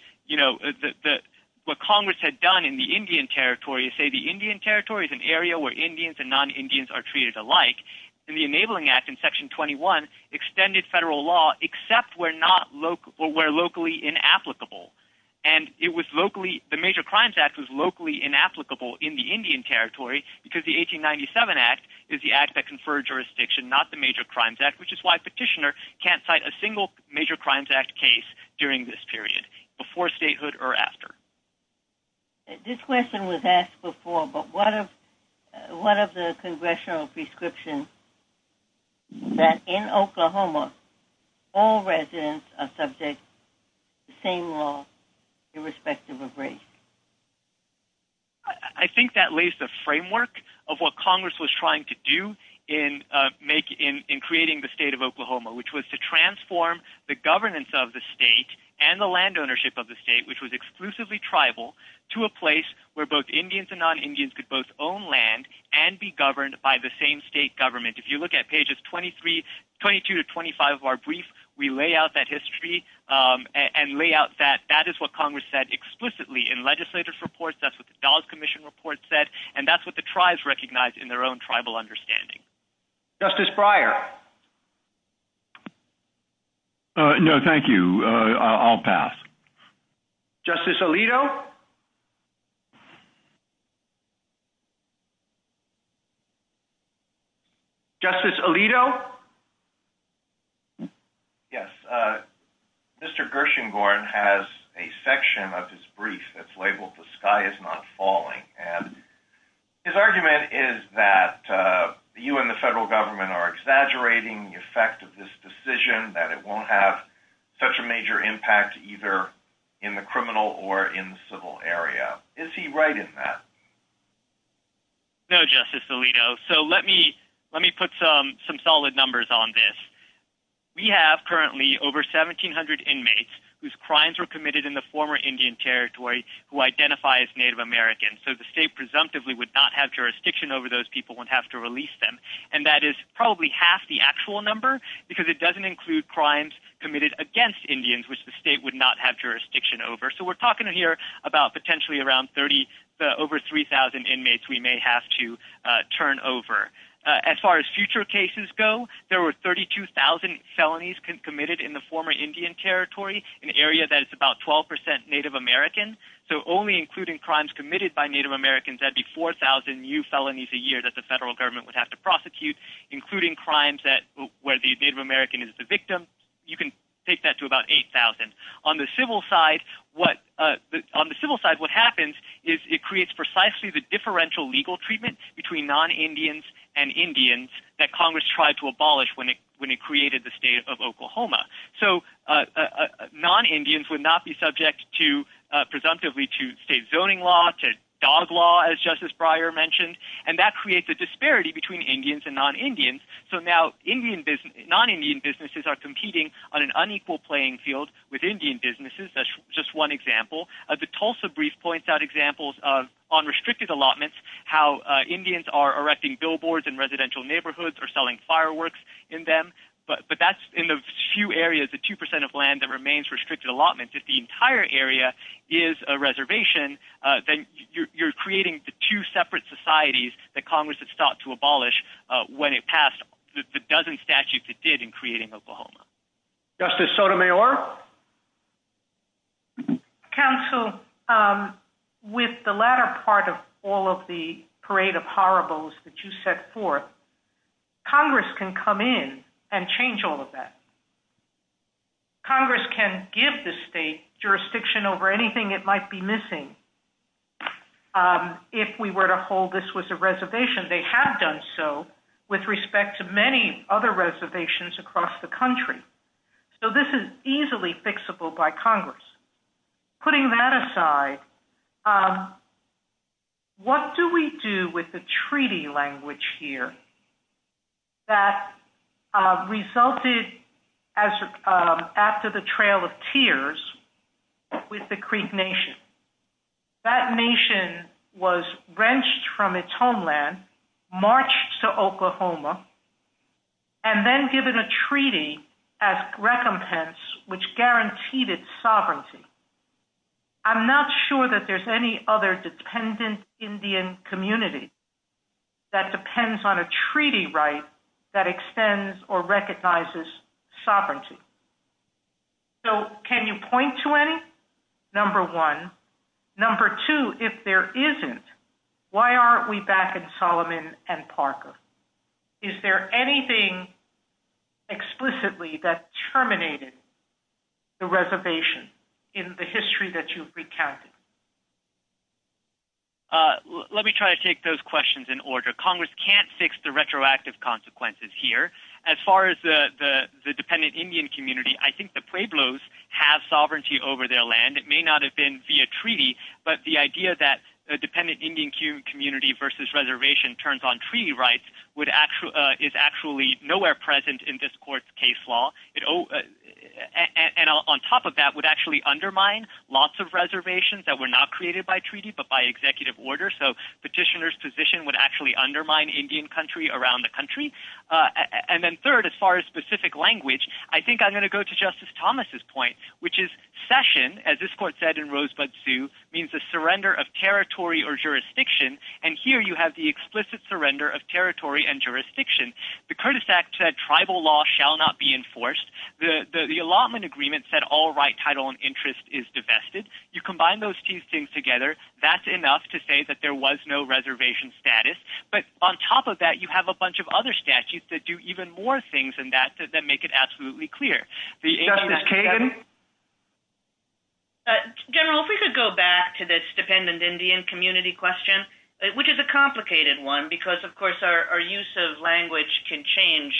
what Congress had done in the Indian Territory, say the Indian Territory is an area where Indians and non-Indians are treated alike, and the Enabling Act in Section 21 extended federal law except where locally inapplicable. And the Major Crimes Act was locally inapplicable in the Indian Territory because the 1897 Act is the act that conferred jurisdiction, not the Major Crimes Act, which is why a petitioner can't cite a single Major Crimes Act case during this period, before statehood or after. This question was asked before, but what of the congressional prescriptions that in Oklahoma all residents are subject to the same law irrespective of race? I think that lays the framework of what Congress was trying to do in creating the state of Oklahoma, which was to transform the governance of the state and the land ownership of the state, which was exclusively tribal, to a place where both Indians and non-Indians could both own land and be governed by the same state government. If you look at pages 22 to 25 of our brief, we lay out that history and lay out that that is what Congress said explicitly in legislative reports, that's what the Dallas Commission report said, and that's what the tribes recognized in their own tribal understanding. Justice Breyer. No, thank you. I'll pass. Justice Alito. Justice Alito. Yes. Mr. Gershengorn has a section of his brief that's labeled The Sky Is Not Falling, and his argument is that you and the federal government are exaggerating the effect of this decision, that it won't have such a major impact either in the criminal or in the civil area. Is he right in that? No, Justice Alito. So let me put some solid numbers on this. We have currently over 1,700 inmates whose crimes were committed in the former Indian Territory who identify as Native Americans. So the state presumptively would not have jurisdiction over those people and have to release them. And that is probably half the actual number because it doesn't include crimes committed against Indians, which the state would not have jurisdiction over. So we're talking here about potentially around 30, over 3,000 inmates we may have to turn over. As far as future cases go, there were 32,000 felonies committed in the former Indian Territory, an area that is about 12% Native American. So only including crimes committed by Native Americans, that'd be 4,000 new felonies a year that the federal government would have to prosecute, including crimes where the Native American is the victim. You can take that to about 8,000. On the civil side, what happens is it creates precisely the differential legal treatment between non-Indians and Indians that Congress tried to abolish when it created the state of Oklahoma. So non-Indians would not be subject presumptively to state zoning law, to dog law, as Justice Breyer mentioned. And that creates a disparity between Indians and non-Indians. So now non-Indian businesses are competing on an unequal playing field with Indian businesses. That's just one example. The Tulsa Brief points out examples on restricted allotments, how Indians are erecting billboards in residential neighborhoods or selling fireworks in them. But that's in the few areas, the 2% of land that remains restricted allotment. If the entire area is a reservation, then you're creating the two separate societies that Congress has sought to abolish when it passed the dozen statutes it did in creating Oklahoma. Justice Sotomayor? Counsel, with the latter part of all of the parade of horribles that you set forth, Congress can come in and change all of that. Congress can give the state jurisdiction over anything it might be missing if we were to hold this was a reservation. They have done so with respect to many other reservations across the country. So this is easily fixable by Congress. Putting that aside, what do we do with the treaty language here that resulted after the Trail of Tears with the Creep Nation? That nation was wrenched from its homeland, marched to Oklahoma, and then given a treaty as recompense which guaranteed its sovereignty. I'm not sure that there's any other dependent Indian community that depends on a treaty right that extends or recognizes sovereignty. So can you point to any? Number one. Number two, if there isn't, why aren't we back in Solomon and Parker? Is there anything explicitly that terminated the reservation in the history that you've recounted? Let me try to take those questions in order. Congress can't fix the retroactive consequences here. As far as the dependent Indian community, I think the Pueblos have sovereignty over their land. It may not have been via treaty, but the idea that the dependent Indian community versus reservation turns on treaty rights is actually nowhere present in this court's case law. And on top of that, the petitioner's position would actually undermine lots of reservations that were not created by treaty, but by executive order. So petitioner's position would actually undermine Indian country around the country. And then third, as far as specific language, I think I'm going to go to Justice Thomas's point, which is cession, as this court said in Rosebud Sioux, means the surrender of territory or jurisdiction. And here you have the explicit surrender of territory and jurisdiction. The Curtis Act said tribal law shall not be enforced. The allotment agreement said all right title and interest is divested. You combine those two things together, that's enough to say that there was no reservation status. But on top of that, you have a bunch of other statutes that do even more things than that that make it absolutely clear. Justice Kagan? General, if we could go back to this dependent Indian community question, which is a complicated one, because, of course, our use of language can change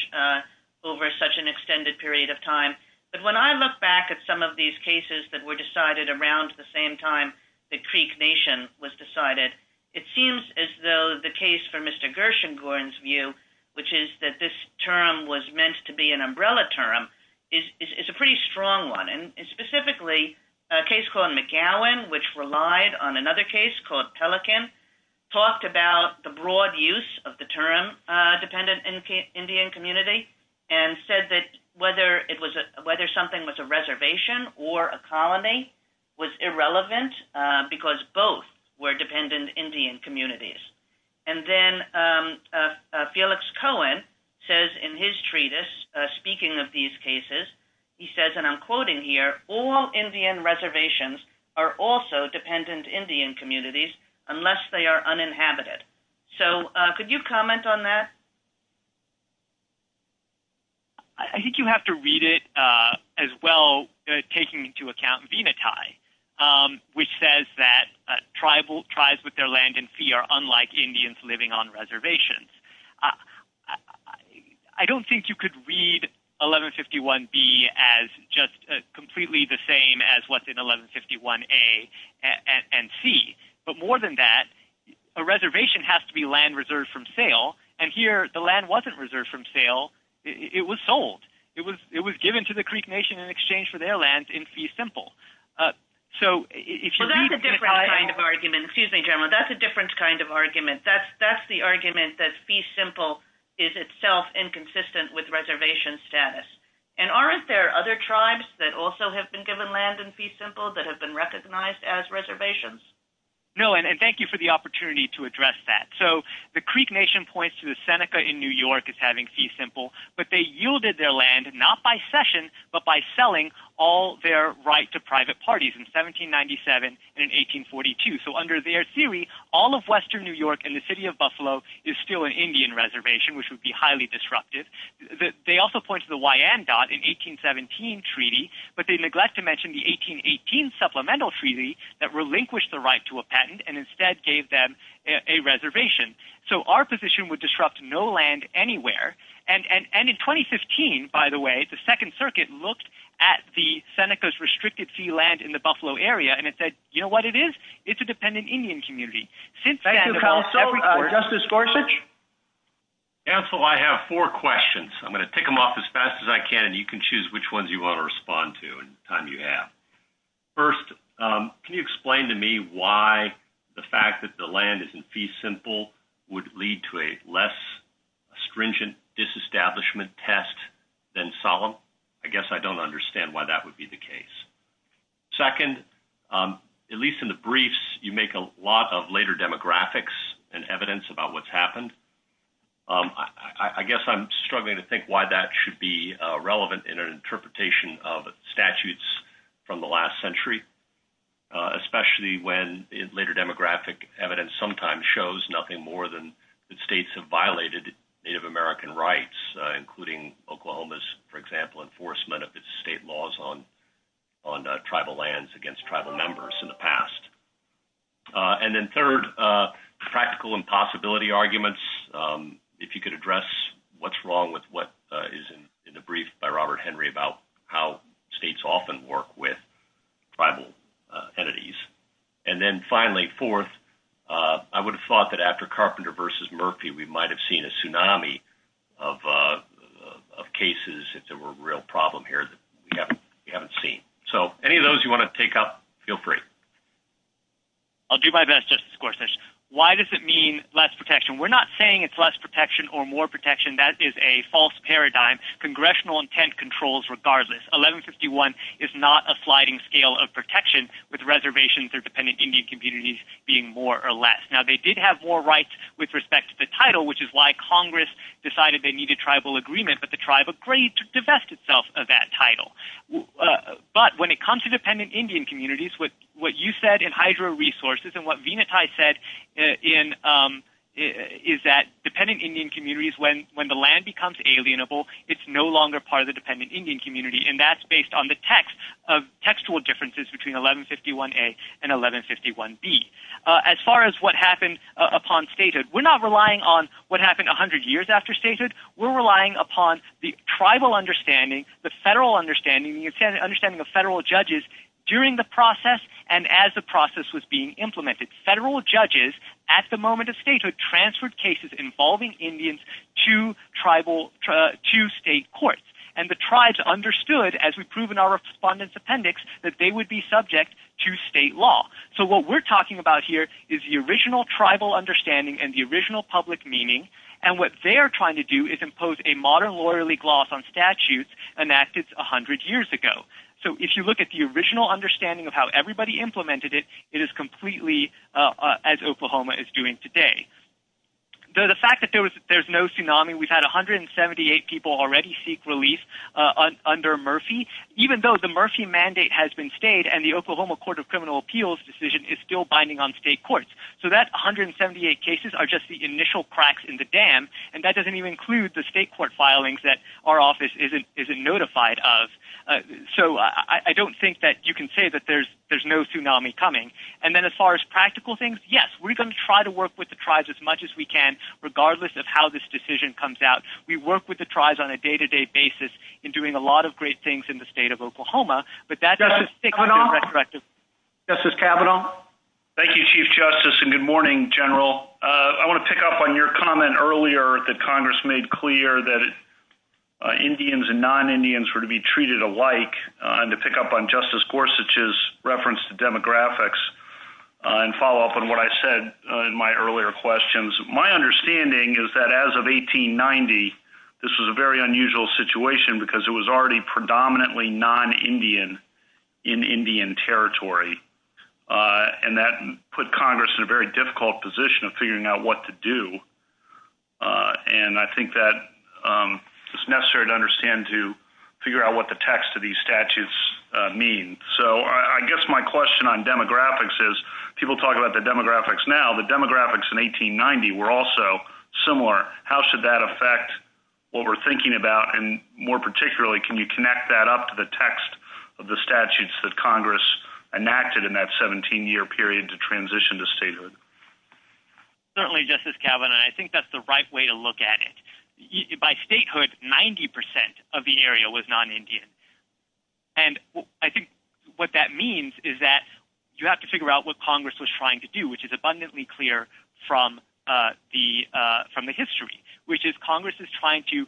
over such an extended period of time. But when I look back at some of these cases that were decided around the same time the Creek Nation was decided, it seems as though the case for Mr. Gershengorn's view, which is that this term was meant to be an umbrella term, is a pretty strong one. And specifically, a case called McGowan, which relied on another case called Pelican, talked about the broad use of the term dependent Indian community and said that whether something was a reservation or a colony was irrelevant because both were dependent Indian communities. And then Felix Cohen says in his treatise, speaking of these cases, he says, and I'm quoting here, all Indian reservations are also dependent Indian communities unless they are uninhabited. So could you comment on that? I think you have to read it as well, taking into account Venati, which says that tribes with their land in fee are unlike Indians living on reservations. I don't think you could read 1151B as just completely the same as what's in 1151A and C. But more than that, a reservation has to be land reserved from sale. And here, the land wasn't reserved from sale. It was sold. It was given to the Creek Nation in exchange for their lands in fee simple. So if you read- Well, that's a different kind of argument. Excuse me, General. That's a different kind of argument. That's the argument that fee simple is itself inconsistent with reservation status. And aren't there other tribes that also have been given land in fee simple that have been recognized as reservations? No, and thank you for the opportunity to address that. So the Creek Nation points to the Seneca in New York as having fee simple, but they yielded their land not by cession, but by selling all their right to private parties in 1797 and in 1842. So under their theory, all of western New York and the city of Buffalo is still an Indian reservation, which would be highly disruptive. They also point to the Wyandotte in 1817 treaty, but they neglect to mention the 1818 supplemental treaty that relinquished the right to a patent and instead gave them a reservation. So our position would disrupt no land anywhere. And in 2015, by the way, the Second Circuit looked at the Seneca's restricted fee land in the Buffalo area, and it said, you know what it is? It's a dependent Indian community. Thank you, Counsel. Justice Gorsuch? Counsel, I have four questions. I'm going to tick them off as fast as I can. And you can choose which ones you want to respond to in the time you have. First, can you explain to me why the fact that the land is in fee simple would lead to a less stringent disestablishment test than solemn? I guess I don't understand why that would be the case. Second, at least in the briefs, you make a lot of later demographics and evidence about what's happened. I guess I'm struggling to think why that should be relevant in an interpretation of statutes from the last century, especially when later demographic evidence sometimes shows nothing more than that states have violated Native American rights, including Oklahoma's, for example, enforcement of its state laws on tribal lands against tribal members in the past. And then third, practical impossibility arguments. If you could address what's wrong with what is in the brief by Robert Henry about how states often work with tribal entities. And then finally, fourth, I would have thought that after Carpenter versus Murphy, we might have seen a tsunami of cases if there were a real problem here that we haven't seen. So any of those you want to take up, feel free. I'll do my best, Justice Gorsuch. Why does it mean less protection? We're not saying it's less protection or more protection. That is a false paradigm. Congressional intent controls regardless. 1151 is not a sliding scale of protection with reservations of dependent Indian communities being more or less. Now, they did have more rights with respect to the title, which is why Congress decided they needed tribal agreement, but the tribe agreed to divest itself of that title. But when it comes to dependent Indian communities, what you said in Hydro Resources and what Venati said is that dependent Indian communities, when the land becomes alienable, it's no longer part of the dependent Indian community, and that's based on the textual differences between 1151A and 1151B. As far as what happened upon statute, we're not relying on what happened 100 years after statute. We're relying upon the tribal understanding, the federal understanding, the understanding of federal judges during the process and as the process was being implemented. Federal judges at the moment of statute transferred cases involving Indians to tribal, to state courts, and the tribes understood, as we prove in our respondent's appendix, that they would be subject to state law. So what we're talking about here is the original tribal understanding and the original public meaning, and what they're trying to do is impose a modern lawyerly gloss on statutes enacted 100 years ago. So if you look at the original understanding of how everybody implemented it, it is completely as Oklahoma is doing today. The fact that there's no tsunami, we've had 178 people already seek relief under Murphy, even though the Murphy mandate has been stayed and the Oklahoma Court of Criminal Appeals decision is still binding on state courts. So that 178 cases are just the initial cracks in the dam, and that doesn't even include the state court filings that our office isn't notified of. So I don't think that you can say that there's no tsunami coming. And then as far as practical things, yes, we're going to try to work with the tribes as much as we can, regardless of how this decision comes out. We work with the tribes on a day-to-day basis in doing a lot of great things in the state of Oklahoma, but that doesn't stick to the retrospective. Justice Kavanaugh? Thank you, Chief Justice, and good morning, General. I want to pick up on your comment earlier that Congress made clear that Indians and non-Indians were to be treated alike, and to pick up on Justice Gorsuch's reference to demographics and follow up on what I said in my earlier questions. My understanding is that as of 1890, this was a very unusual situation because it was already predominantly non-Indian in Indian territory, and that put Congress in a very difficult position of figuring out what to do. And I think that it's necessary to understand to figure out what the text of these statutes mean. So I guess my question on demographics is, people talk about the demographics now. The demographics in 1890 were also similar. How should that affect what we're thinking about, and more particularly, can you connect that up to the text of the statutes that Congress enacted in that 17-year period to transition to statehood? Certainly, Justice Kavanaugh. I think that's the right way to look at it. By statehood, 90% of the area was non-Indian. And I think what that means is that you have to figure out what Congress was trying to do, which is abundantly clear from the history, which is Congress is trying to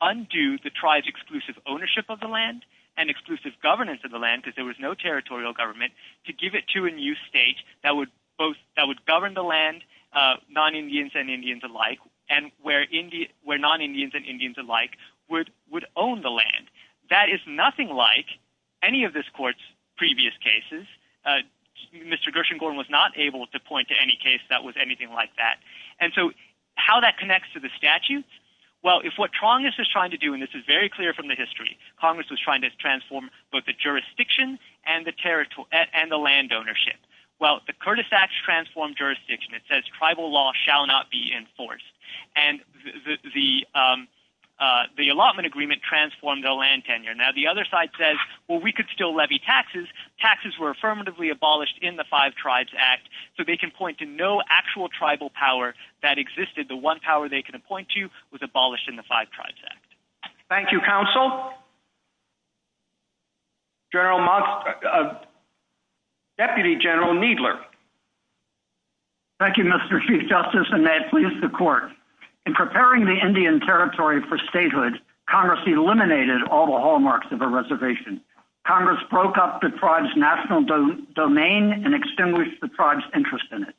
undo the tribe's exclusive ownership of the land and exclusive governance of the land because there was no territorial government, to give it to a new state that would govern the land, non-Indians and Indians alike, and where non-Indians and Indians alike would own the land. That is nothing like any of this court's previous cases. Mr. Gershengorn was not able to point to any case that was anything like that. And so how that connects to the statute? Well, if what Congress is trying to do, and this is very clear from the history, Congress was trying to transform both the jurisdiction and the land ownership. Well, the Curtis Act transformed jurisdiction. It says tribal law shall not be enforced. And the allotment agreement transformed the land tenure. Now, the other side says, well, we could still levy taxes. Taxes were affirmatively abolished in the Five Tribes Act, so they can point to no actual tribal power that existed. The one power they can appoint to was abolished in the Five Tribes Act. Thank you, counsel. General Moss, Deputy General Needler. Thank you, Mr. Chief Justice, and may it please the court. In preparing the Indian Territory for statehood, Congress eliminated all the hallmarks of a reservation. Congress broke up the tribe's national domain and extinguished the tribe's interest in it.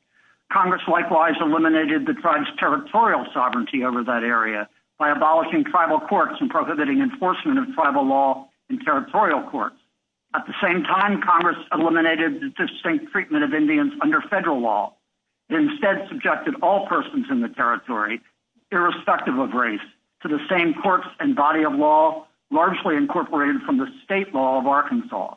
Congress likewise eliminated the tribe's territorial sovereignty over that area by abolishing tribal courts and prohibiting enforcement of tribal law in territorial courts. At the same time, Congress eliminated the distinct treatment of Indians under federal law and instead subjected all persons in the territory, irrespective of race, to the same courts and body of law largely incorporated from the state law of Arkansas.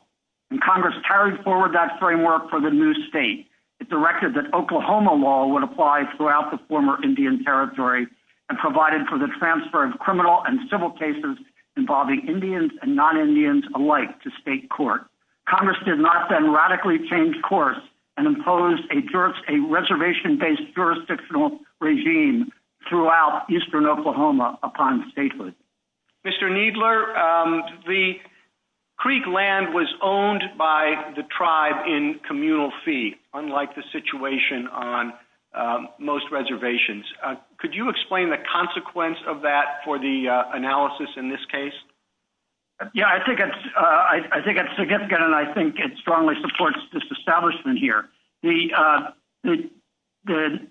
And Congress carried forward that framework for the new state. It directed that Oklahoma law would apply throughout the former Indian Territory and provided for the transfer of criminal and civil cases involving Indians and non-Indians alike to state court. Congress did not then radically change course and imposed a reservation-based jurisdictional regime throughout eastern Oklahoma upon statehood. Mr. Needler, the creek land was owned by the tribe in communal fee, unlike the situation on most reservations. Could you explain the consequence of that for the analysis in this case? Yeah, I think it's significant, and I think it strongly supports this establishment here. The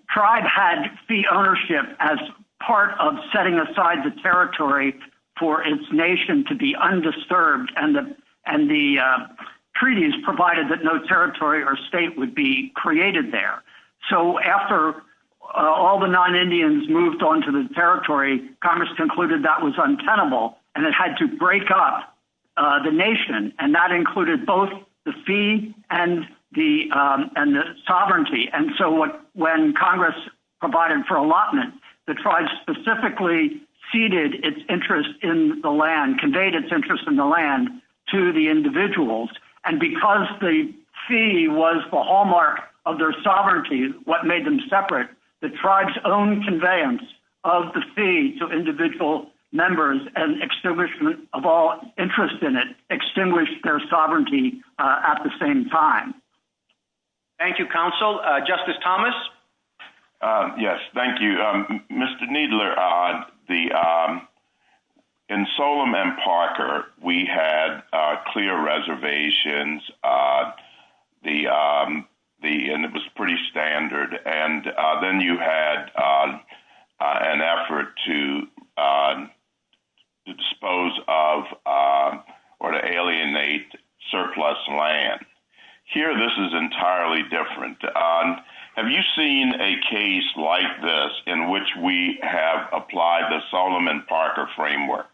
tribe had fee ownership as part of setting aside the territory for its nation to be undisturbed, and the treaties provided that no territory or state would be created there. So after all the non-Indians moved onto the territory, Congress concluded that was untenable and it had to break up the nation, and that included both the fee and the sovereignty. And so when Congress provided for allotment, the tribe specifically ceded its interest in the land, conveyed its interest in the land to the individuals, and because the fee was the hallmark of their sovereignty, what made them separate, the tribe's own conveyance of the fee to individual members and extinguishment of all interest in it extinguished their sovereignty at the same time. Thank you, Counsel. Justice Thomas? Yes, thank you. Mr. Needler, in Solemn and Parker, we had clear reservations, and it was pretty standard, and then you had an effort to dispose of or to alienate surplus land. Here this is entirely different. Have you seen a case like this in which we have applied the Solemn and Parker framework?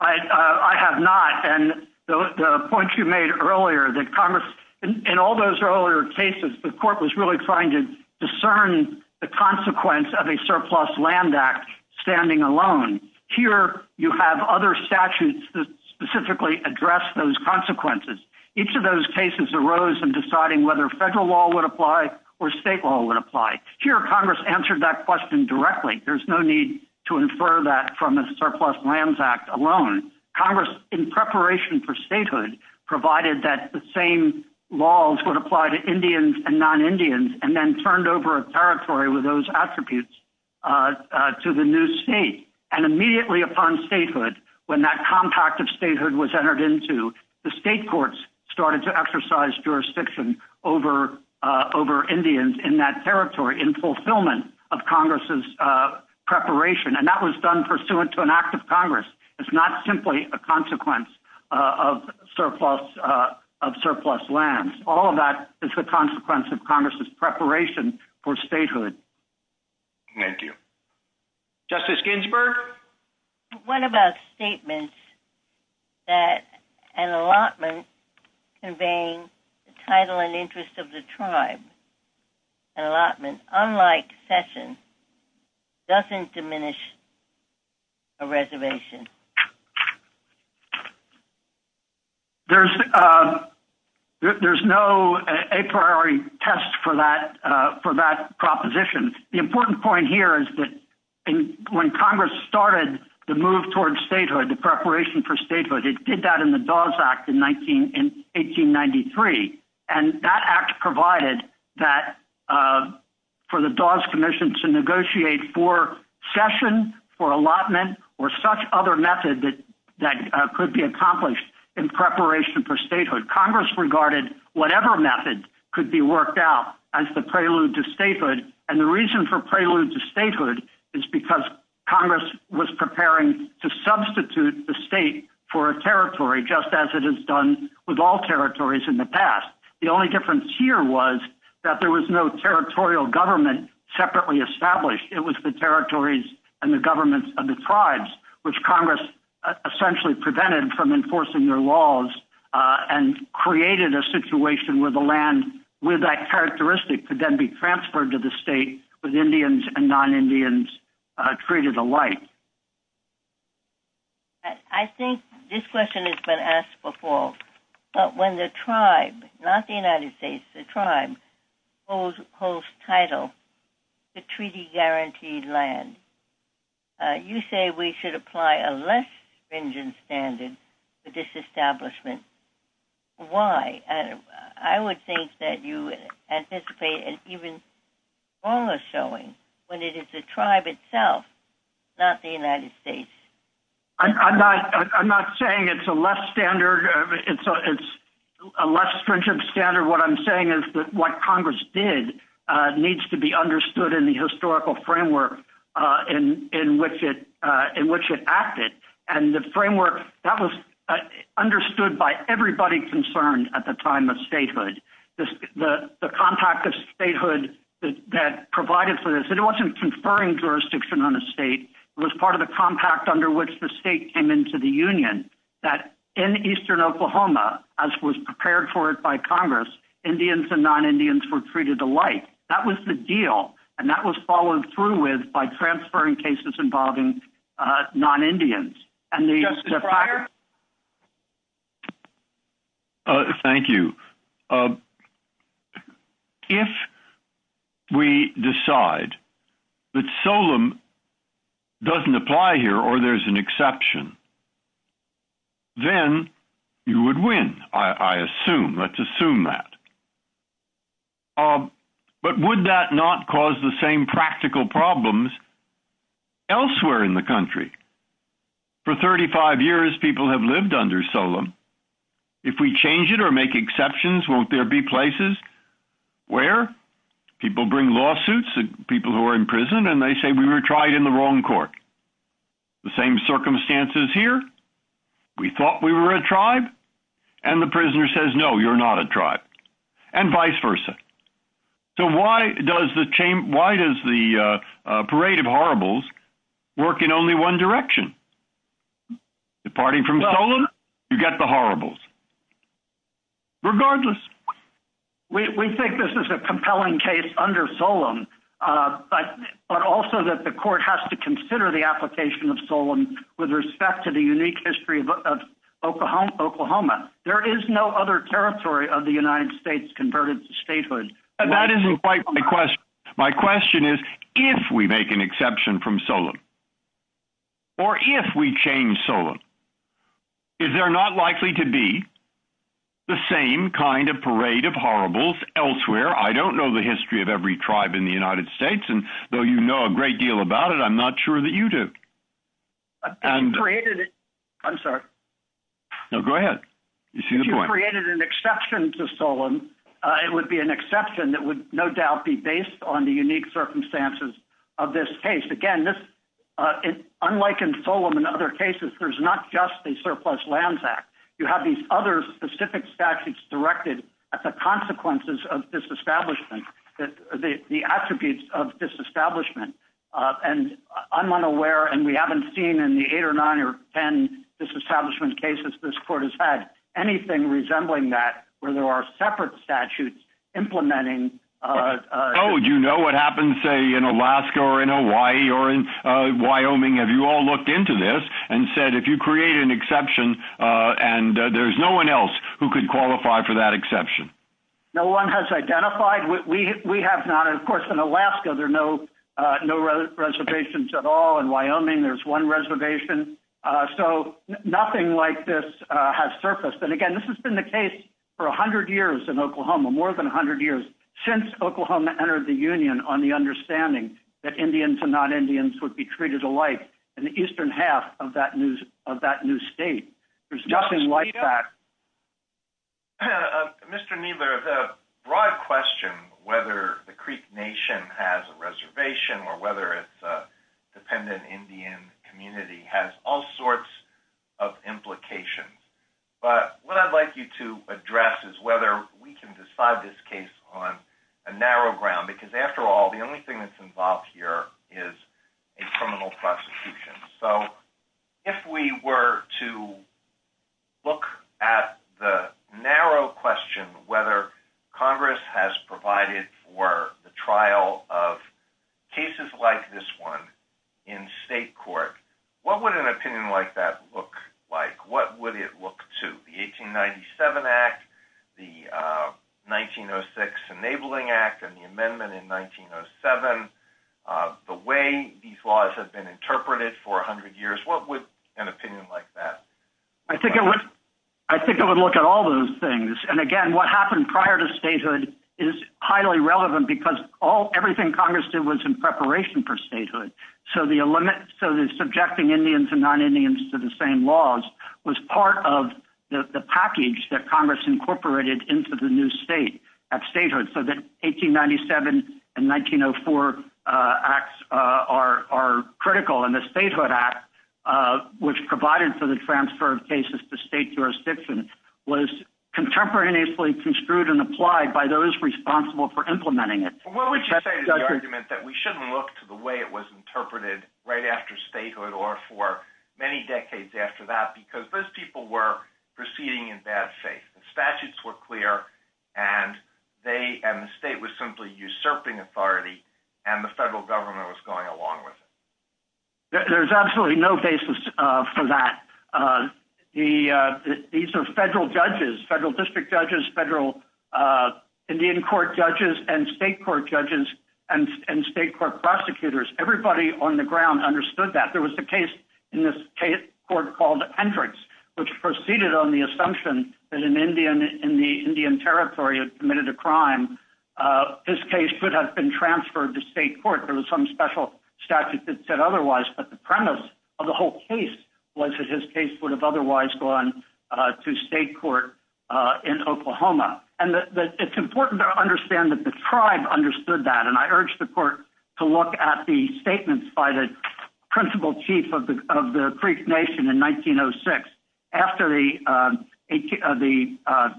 I have not, and the point you made earlier that Congress, in all those earlier cases, the court was really trying to discern the consequence of a surplus land act standing alone. Here you have other statutes that specifically address those consequences. Each of those cases arose in deciding whether federal law would apply or state law would apply. Here Congress answered that question directly. There's no need to infer that from a surplus lands act alone. Congress, in preparation for statehood, provided that the same laws would apply to Indians and non-Indians and then turned over a territory with those attributes to the new state. And immediately upon statehood, when that compact of statehood was entered into, the state courts started to exercise jurisdiction over Indians in that territory in fulfillment of Congress's preparation. And that was done pursuant to an act of Congress. It's not simply a consequence of surplus lands. All of that is the consequence of Congress's preparation for statehood. Thank you. Justice Ginsburg? What about statements that an allotment conveying the title and interest of the tribe? An allotment, unlike session, doesn't diminish a reservation. There's no a priori test for that proposition. The important point here is that when Congress started the move towards statehood, the preparation for statehood, it did that in the Dawes Act in 1893. And that act provided for the Dawes Commission to negotiate for session, for allotment, or such other method that could be accomplished in preparation for statehood. Congress regarded whatever method could be worked out as the prelude to statehood. And the reason for prelude to statehood is because Congress was preparing to substitute the state for a territory, just as it has done with all territories in the past. The only difference here was that there was no territorial government separately established. It was the territories and the governments of the tribes, which Congress essentially prevented from enforcing their laws and created a situation where the land, where that characteristic could then be transferred to the state with Indians and non-Indians treated alike. I think this question has been asked before, but when the tribe, not the United States, the tribe holds title to treaty-guaranteed land, you say we should apply a less stringent standard to this establishment. Why? I would think that you anticipate an even smaller showing when it is the tribe itself, not the United States. I'm not saying it's a less standard. It's a less stringent standard. What I'm saying is that what Congress did needs to be understood in the historical framework in which it acted. And the framework, that was understood by everybody concerned at the time of statehood. The compact of statehood that provided for this, was that it wasn't conferring jurisdiction on the state. It was part of the compact under which the state came into the union, that in Eastern Oklahoma, as was prepared for it by Congress, Indians and non-Indians were treated alike. That was the deal, and that was followed through with by transferring cases involving non-Indians. And the fact... Thank you. Thank you. If we decide that SOLEM doesn't apply here or there's an exception, then you would win, I assume. Let's assume that. But would that not cause the same practical problems elsewhere in the country? For 35 years, people have lived under SOLEM. If we change it or make exceptions, won't there be places where people bring lawsuits to people who are in prison and they say we were tried in the wrong court? The same circumstances here? We thought we were a tribe? And the prisoner says, no, you're not a tribe. And vice versa. So why does the parade of horribles work in only one direction? Departing from SOLEM, you get the horribles. Regardless... We think this is a compelling case under SOLEM, but also that the court has to consider the application of SOLEM with respect to the unique history of Oklahoma. There is no other territory of the United States converted to statehood. My question is if we make an exception from SOLEM or if we change SOLEM, is there not likely to be the same kind of parade of horribles elsewhere? I don't know the history of every tribe in the United States. And though you know a great deal about it, I'm not sure that you do. I'm sorry. No, go ahead. You see the point. If you created an exception to SOLEM, it would be an exception that would no doubt be based on the unique circumstances of this case. Again, unlike in SOLEM and other cases, there's not just the Surplus Lands Act. You have these other specific statutes directed at the consequences of disestablishment, the attributes of disestablishment. And I'm unaware, and we haven't seen in the eight or nine or ten disestablishment cases this court has had, anything resembling that where there are separate statutes implementing... Oh, do you know what happens, say, in Alaska or in Hawaii or in Wyoming? Have you all looked into this and said, if you create an exception and there's no one else who could qualify for that exception? No one has identified. We have not. Of course, in Alaska, there are no reservations at all. In Wyoming, there's one reservation. So nothing like this has surfaced. And again, this has been the case for 100 years in Oklahoma, more than 100 years since Oklahoma entered the Union on the understanding that Indians and non-Indians would be treated alike in the eastern half of that new state. There's nothing like that. Mr. Kneedler, the broad question, whether the Creek Nation has a reservation or whether it's a dependent Indian community, has all sorts of implications. But what I'd like you to address is whether we can decide on this case on a narrow ground, because after all, the only thing that's involved here is a criminal prosecution. So if we were to look at the narrow question, whether Congress has provided for the trial of cases like this one in state court, what would an opinion like that look like? What would it look to? The 1897 Act, the 1906 Enabling Act, and the amendment in 1907, the way these laws have been interpreted for 100 years, what would an opinion like that look like? I think it would look at all those things. And again, what happened prior to statehood is highly relevant because everything Congress did was in preparation for statehood. So the subjecting Indians and non-Indians to the same laws was part of the package that Congress incorporated into the new state of statehood. So the 1897 and 1904 Acts are critical. And the Statehood Act, which provided for the transfer of cases to state jurisdiction, was contemporaneously construed and applied by those responsible for implementing it. What would you say to the argument that we shouldn't look to the way it was interpreted right after statehood or for many decades after that? Because those people were proceeding in bad faith. The statutes were clear, and the state was simply usurping authority, and the federal government was going along with it. There's absolutely no basis for that. These are federal judges, federal district judges, federal Indian court judges, and state court judges, and state court prosecutors, everybody on the ground understood that. There was a case in this court called Hendricks, which proceeded on the assumption that an Indian in the Indian Territory had committed a crime. His case could have been transferred to state court for some special statute that said otherwise, but the premise of the whole case was that his case would have otherwise gone to state court in Oklahoma. And it's important to understand that the tribe understood that, and I urge the court to look at the statements by the principal chief of the Creek Nation in 1906 after the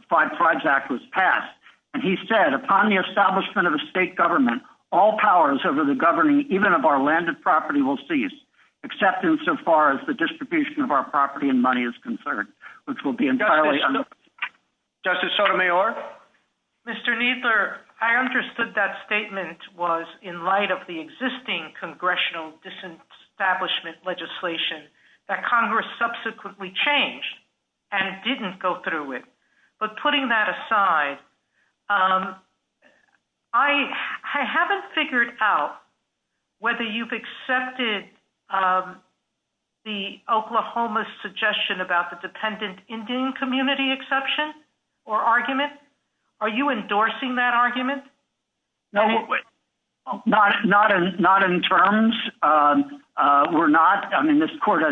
Tribes Act was passed, and he said, upon the establishment of a state government, all powers over the governing even of our land and property will cease, except insofar as the distribution of our property and money is concerned, which will be entirely... Justice Sotomayor? Mr. Kneedler, I understood that statement was in light of the existing congressional disestablishment legislation that Congress subsequently changed and didn't go through with. But putting that aside, whether you've accepted the Oklahoma's suggestion about the dependent Indian community exception or argument, are you endorsing that argument? Not in terms. We're not. I mean, this court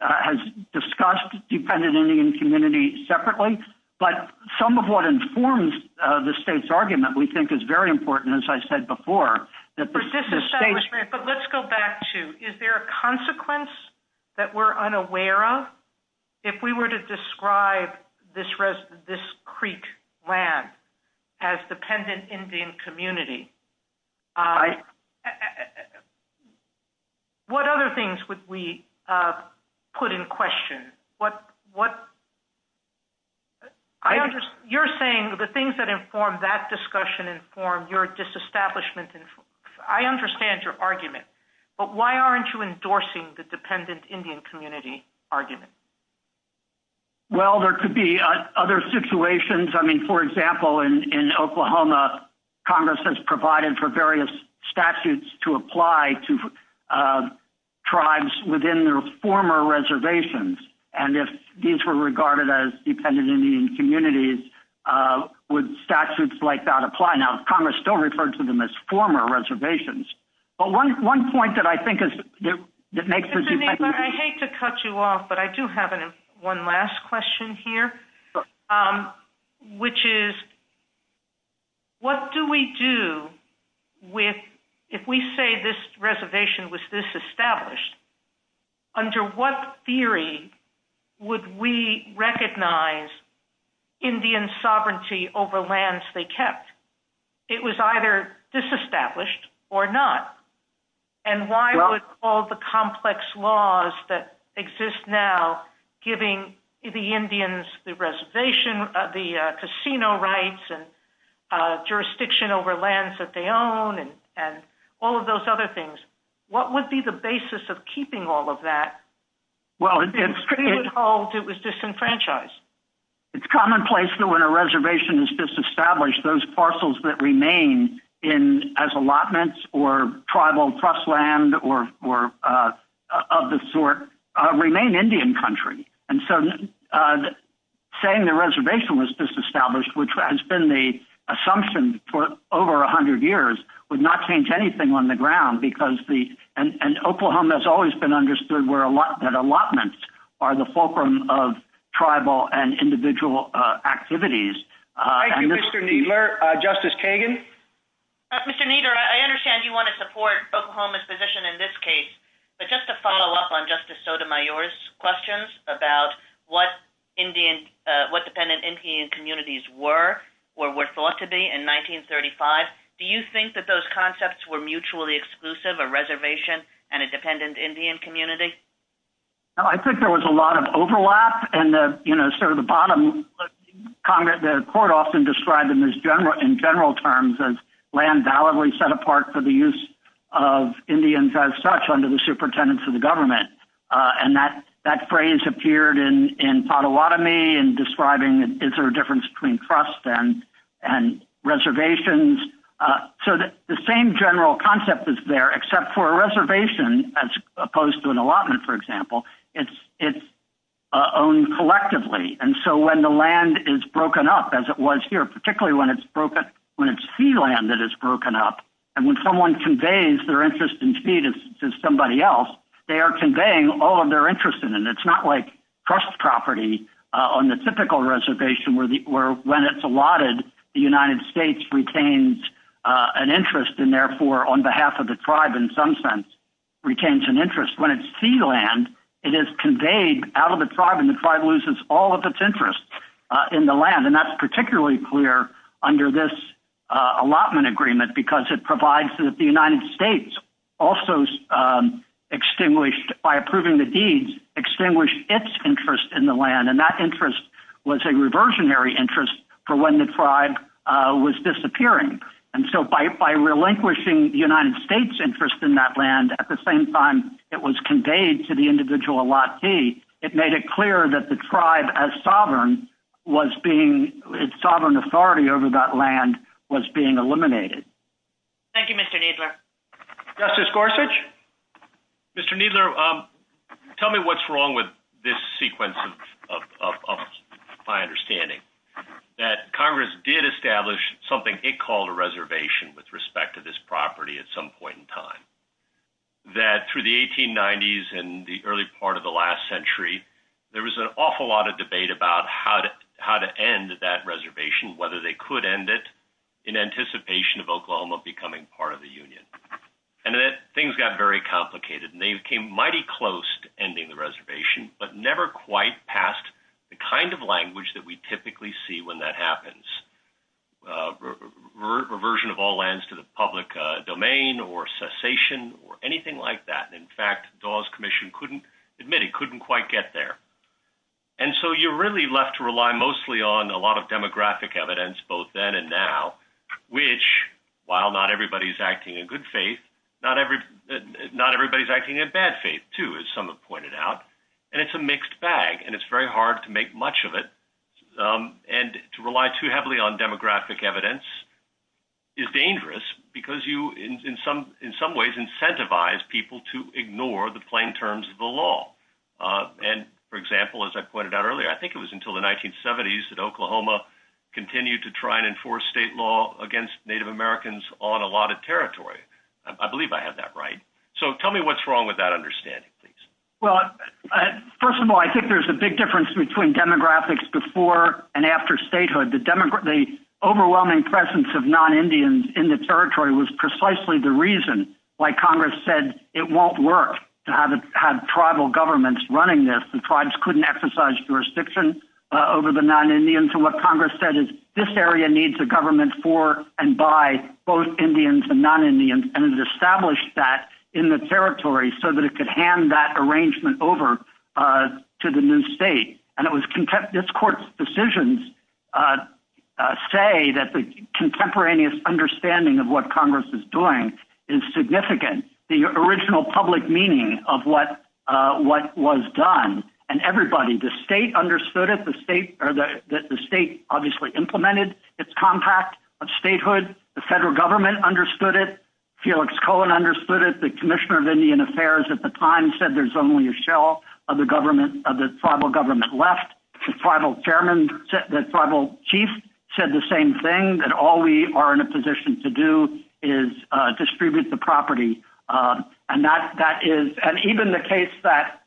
has discussed dependent Indian community separately, but some of what informs the state's argument, we think, is very important, as I said before. But let's go back to, is there a consequence that we're unaware of if we were to describe this creek land as dependent Indian community? What other things would we put in question? You're saying the things that inform that discussion inform your disestablishment. I understand your argument, but why aren't you endorsing the dependent Indian community argument? Well, there could be other situations. I mean, for example, in Oklahoma, Congress has provided for various statutes to apply to tribes within their former reservations. And if these were regarded as dependent Indian communities, would statutes like that apply? Now, Congress still refers to them as former reservations. But one point that I think makes this effect... I hate to cut you off, but I do have one last question here, which is, what do we do if we say this reservation was disestablished? Under what theory would we recognize Indian sovereignty over lands they kept? It was either disestablished or not. And why would all the complex laws that exist now giving the Indians the reservation, the casino rights, and jurisdiction over lands that they own and all of those other things, what would be the basis of keeping all of that? Well, it's... It was disenfranchised. It's commonplace that when a reservation is disestablished, those parcels that remain as allotments or tribal trust land or of the sort remain Indian country. And so saying the reservation was disestablished, which has been the assumption for over 100 years, would not change anything on the ground, because the... And Oklahoma has always been understood that allotments are the fulcrum of tribal and individual activities. Thank you, Mr. Kneedler. Justice Kagan? Mr. Kneedler, I understand you want to support Oklahoma's position in this case, but just to follow up on Justice Sotomayor's questions about what Indian... what dependent Indian communities were or were thought to be in 1935, do you think that those concepts were mutually exclusive, a reservation and a dependent Indian community? Well, I think there was a lot of overlap and, you know, sort of the bottom... The court often described them in general terms as land validly set apart for the use of Indians as such under the superintendence of the government. And that phrase appeared in Pottawatomie in describing the difference between trust and reservations. So the same general concept is there, as opposed to an allotment, for example, it's owned collectively. And so when the land is broken up, as it was here, particularly when it's sea land that is broken up, and when someone conveys their interest in feed to somebody else, they are conveying all of their interest in it. It's not like trust property on the typical reservation where when it's allotted, the United States retains an interest and therefore, on behalf of the tribe, in some sense, retains an interest. When it's sea land, it is conveyed out of the tribe and the tribe loses all of its interest in the land. And that's particularly clear under this allotment agreement because it provides that the United States also extinguished, by approving the deeds, extinguished its interest in the land. And that interest was a reversionary interest for when the tribe was disappearing. And so by relinquishing the United States' interest in that land, at the same time it was conveyed to the individual Latte, it made it clear that the tribe as sovereign was being, its sovereign authority over that land was being eliminated. Thank you, Mr. Kneedler. Justice Gorsuch? Mr. Kneedler, tell me what's wrong with this sequence of my understanding, that Congress did establish something it called a reservation with respect to this property at some point in time. That through the 1890s and the early part of the last century, there was an awful lot of debate about how to end that reservation, whether they could end it, in anticipation of Oklahoma becoming part of the Union. And then things got very complicated and they became mighty close to ending the reservation, but never quite passed the kind of language that we typically see when that happens. Reversion of all lands to the public domain or cessation or anything like that. In fact, Dawes Commission couldn't, admittedly, couldn't quite get there. And so you're really left to rely mostly on a lot of demographic evidence, both then and now, which, while not everybody's acting in good faith, not everybody's acting in bad faith, too, as some have pointed out. And it's a mixed bag and it's very hard to make much of it and to rely too heavily on demographic evidence is dangerous because you, in some ways, incentivize people to ignore the plain terms of the law. And, for example, as I pointed out earlier, I think it was until the 1970s that Oklahoma continued to try and enforce state law against Native Americans on a lot of territory. I believe I have that right. So tell me what's wrong with that understanding, please. Well, first of all, I think there's a big difference between demographics before and after statehood. The overwhelming presence of non-Indians in the territory was precisely the reason why Congress said it won't work to have tribal governments running this. The tribes couldn't exercise jurisdiction over the non-Indians. So what Congress said is this area needs a government for and by both Indians and non-Indians, and it established that in the territory so that it could hand that over to the new state. And it was this court's decisions say that the contemporaneous understanding of what Congress is doing is significant. The original public meaning of what was done and everybody, the state understood it. The state obviously implemented its compact of statehood. The federal government understood it. Felix Cohen understood it. The Commissioner of Indian Affairs at the time said there's only a one-time rule of the government that tribal government left. The tribal chairman, the tribal chief said the same thing, that all we are in a position to do is distribute the property. And that is, and even the case that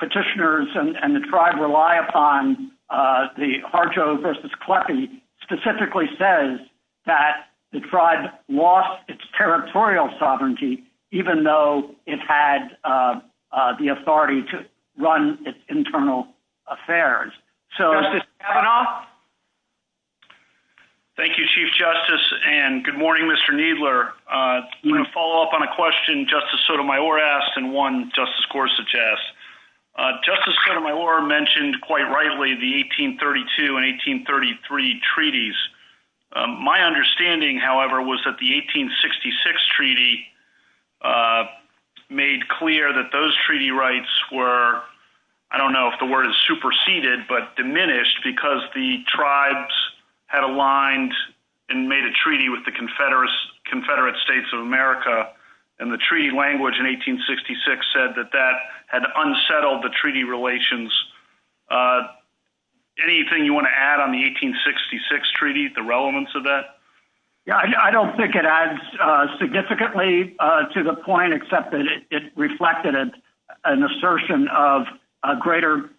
petitioners and the tribe rely upon, the Harjo versus Klepe, specifically says that the tribe lost its territorial sovereignty, even though it had the authority to run its internal affairs. So. Thank you, Chief Justice. And good morning, Mr. Needler. I'm going to follow up on a question Justice Sotomayor asked and one Justice Gore suggests. Justice Sotomayor mentioned quite rightly the 1832 and 1833 treaties. My understanding, however, was that the 1866 treaty made clear that those treaty rights were, I don't know if the word is superseded, but diminished because the tribes had aligned and made a treaty with the Confederate States of America and the treaty language in 1866 said that that had unsettled the treaty relations. Anything you want to add on the 1866 treaty, the relevance of that? Yeah, I don't think it adds significantly to the point, except that it reflected an assertion of a greater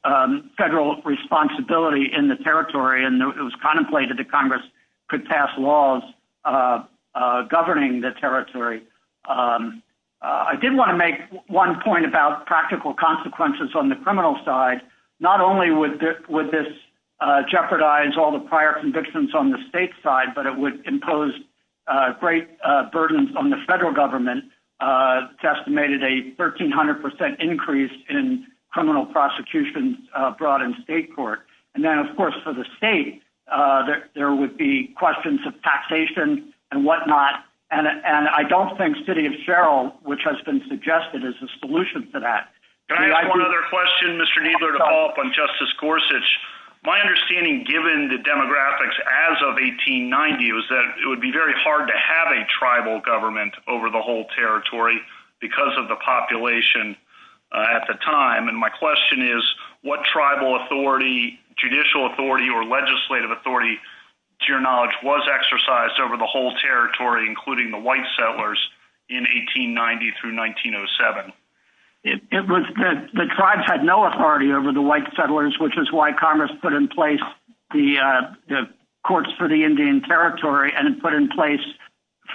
federal responsibility in the territory. And it was contemplated that Congress could pass laws governing the territory. I did want to make one point about practical consequences on the criminal side. Not only would this jeopardize all the prior convictions on the state side, but it would impose great burdens on the federal government. It's estimated a 1300% increase in criminal prosecution brought in state court. And then, of course, for the state, there would be questions of taxation and whatnot. And I don't think city of Sherrill, which has been suggested as a solution to that. I have another question, Mr. Kneedler, to follow up on Justice Gorsuch. My understanding, given the demographics as of 1890, was that it would be very hard to have a tribal government over the whole territory because of the population at the time. And my question is what tribal authority, judicial authority or legislative authority, to your knowledge, was exercised over the whole territory, including the white settlers in 1890 through 1907? It was that the tribes had no authority over the white settlers, which is why Congress put in place the courts for the Indian territory and put in place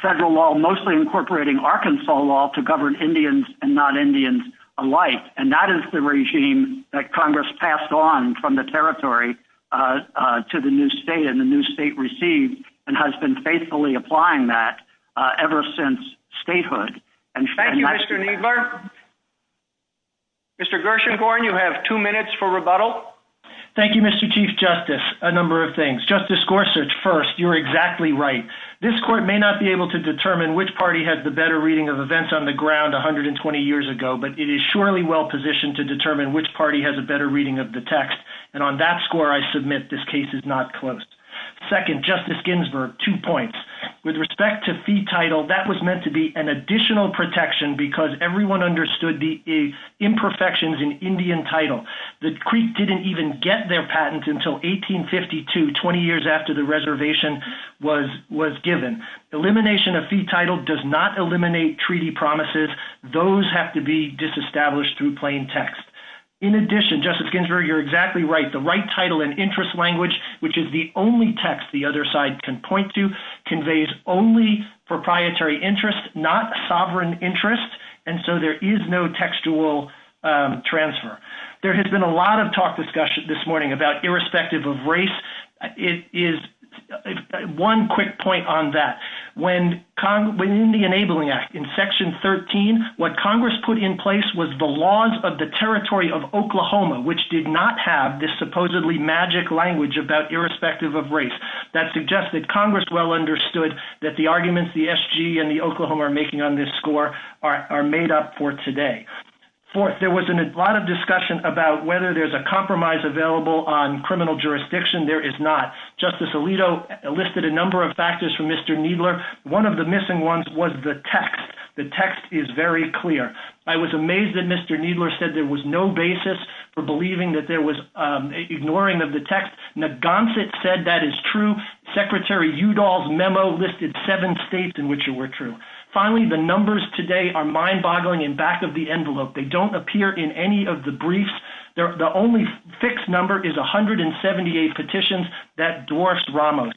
federal law, mostly incorporating Arkansas law to govern Indians and non-Indians alike. And that is the regime that Congress passed on from the territory to the new state and the new state received and has been faithfully applying that ever since statehood. Thank you, Mr. Kneedler. Mr. Gershengorn, you have two minutes for rebuttal. Thank you, Mr. Chief Justice. A number of things. Justice Gorsuch, first, you're exactly right. This court may not be able to determine which party has the better reading of events on the ground 120 years ago, but it is surely well positioned to determine which party has a better reading of the text. And on that score, I submit this case is not closed. Second, Justice Ginsburg, two points. With respect to fee title, that was meant to be an additional protection because everyone understood the imperfections in Indian title. The Creek didn't even get their patents until 1852, 20 years after the reservation was given. Elimination of fee title does not eliminate treaty promises. Those have to be disestablished through plain text. In addition, Justice Ginsburg, you're exactly right. The right title and interest language, which is the only text the other side can point to, conveys only proprietary interest, not sovereign interest. And so there is no textual transfer. There has been a lot of talk discussion this morning about irrespective of race. It is one quick point on that. When in the enabling act, in section 13, what Congress put in place was the laws of the territory of Oklahoma, which did not have this supposedly magic language about irrespective of race. That suggests that Congress well understood that the arguments the SG and the Oklahoma are making on this score are made up for today. Fourth, there was a lot of discussion about whether there's a compromise available on criminal jurisdiction. There is not. Justice Alito listed a number of factors from Mr. Needler. One of the missing ones was the text. The text is very clear. I was amazed that Mr. Needler said there was no basis for believing that there was ignoring of the text. Neb Gonset said that is true. Secretary Udall's memo listed seven states in which it were true. Finally, the numbers today are mind-boggling in back of the envelope. They don't appear in any of the briefs. The only fixed number is 178 petitions that dwarfed Ramos.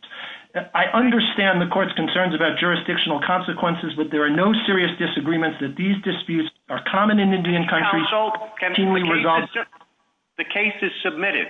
I understand the court's concerns about jurisdictional consequences, but there are no serious disagreements that these disputes are common in Indian country. The case is submitted.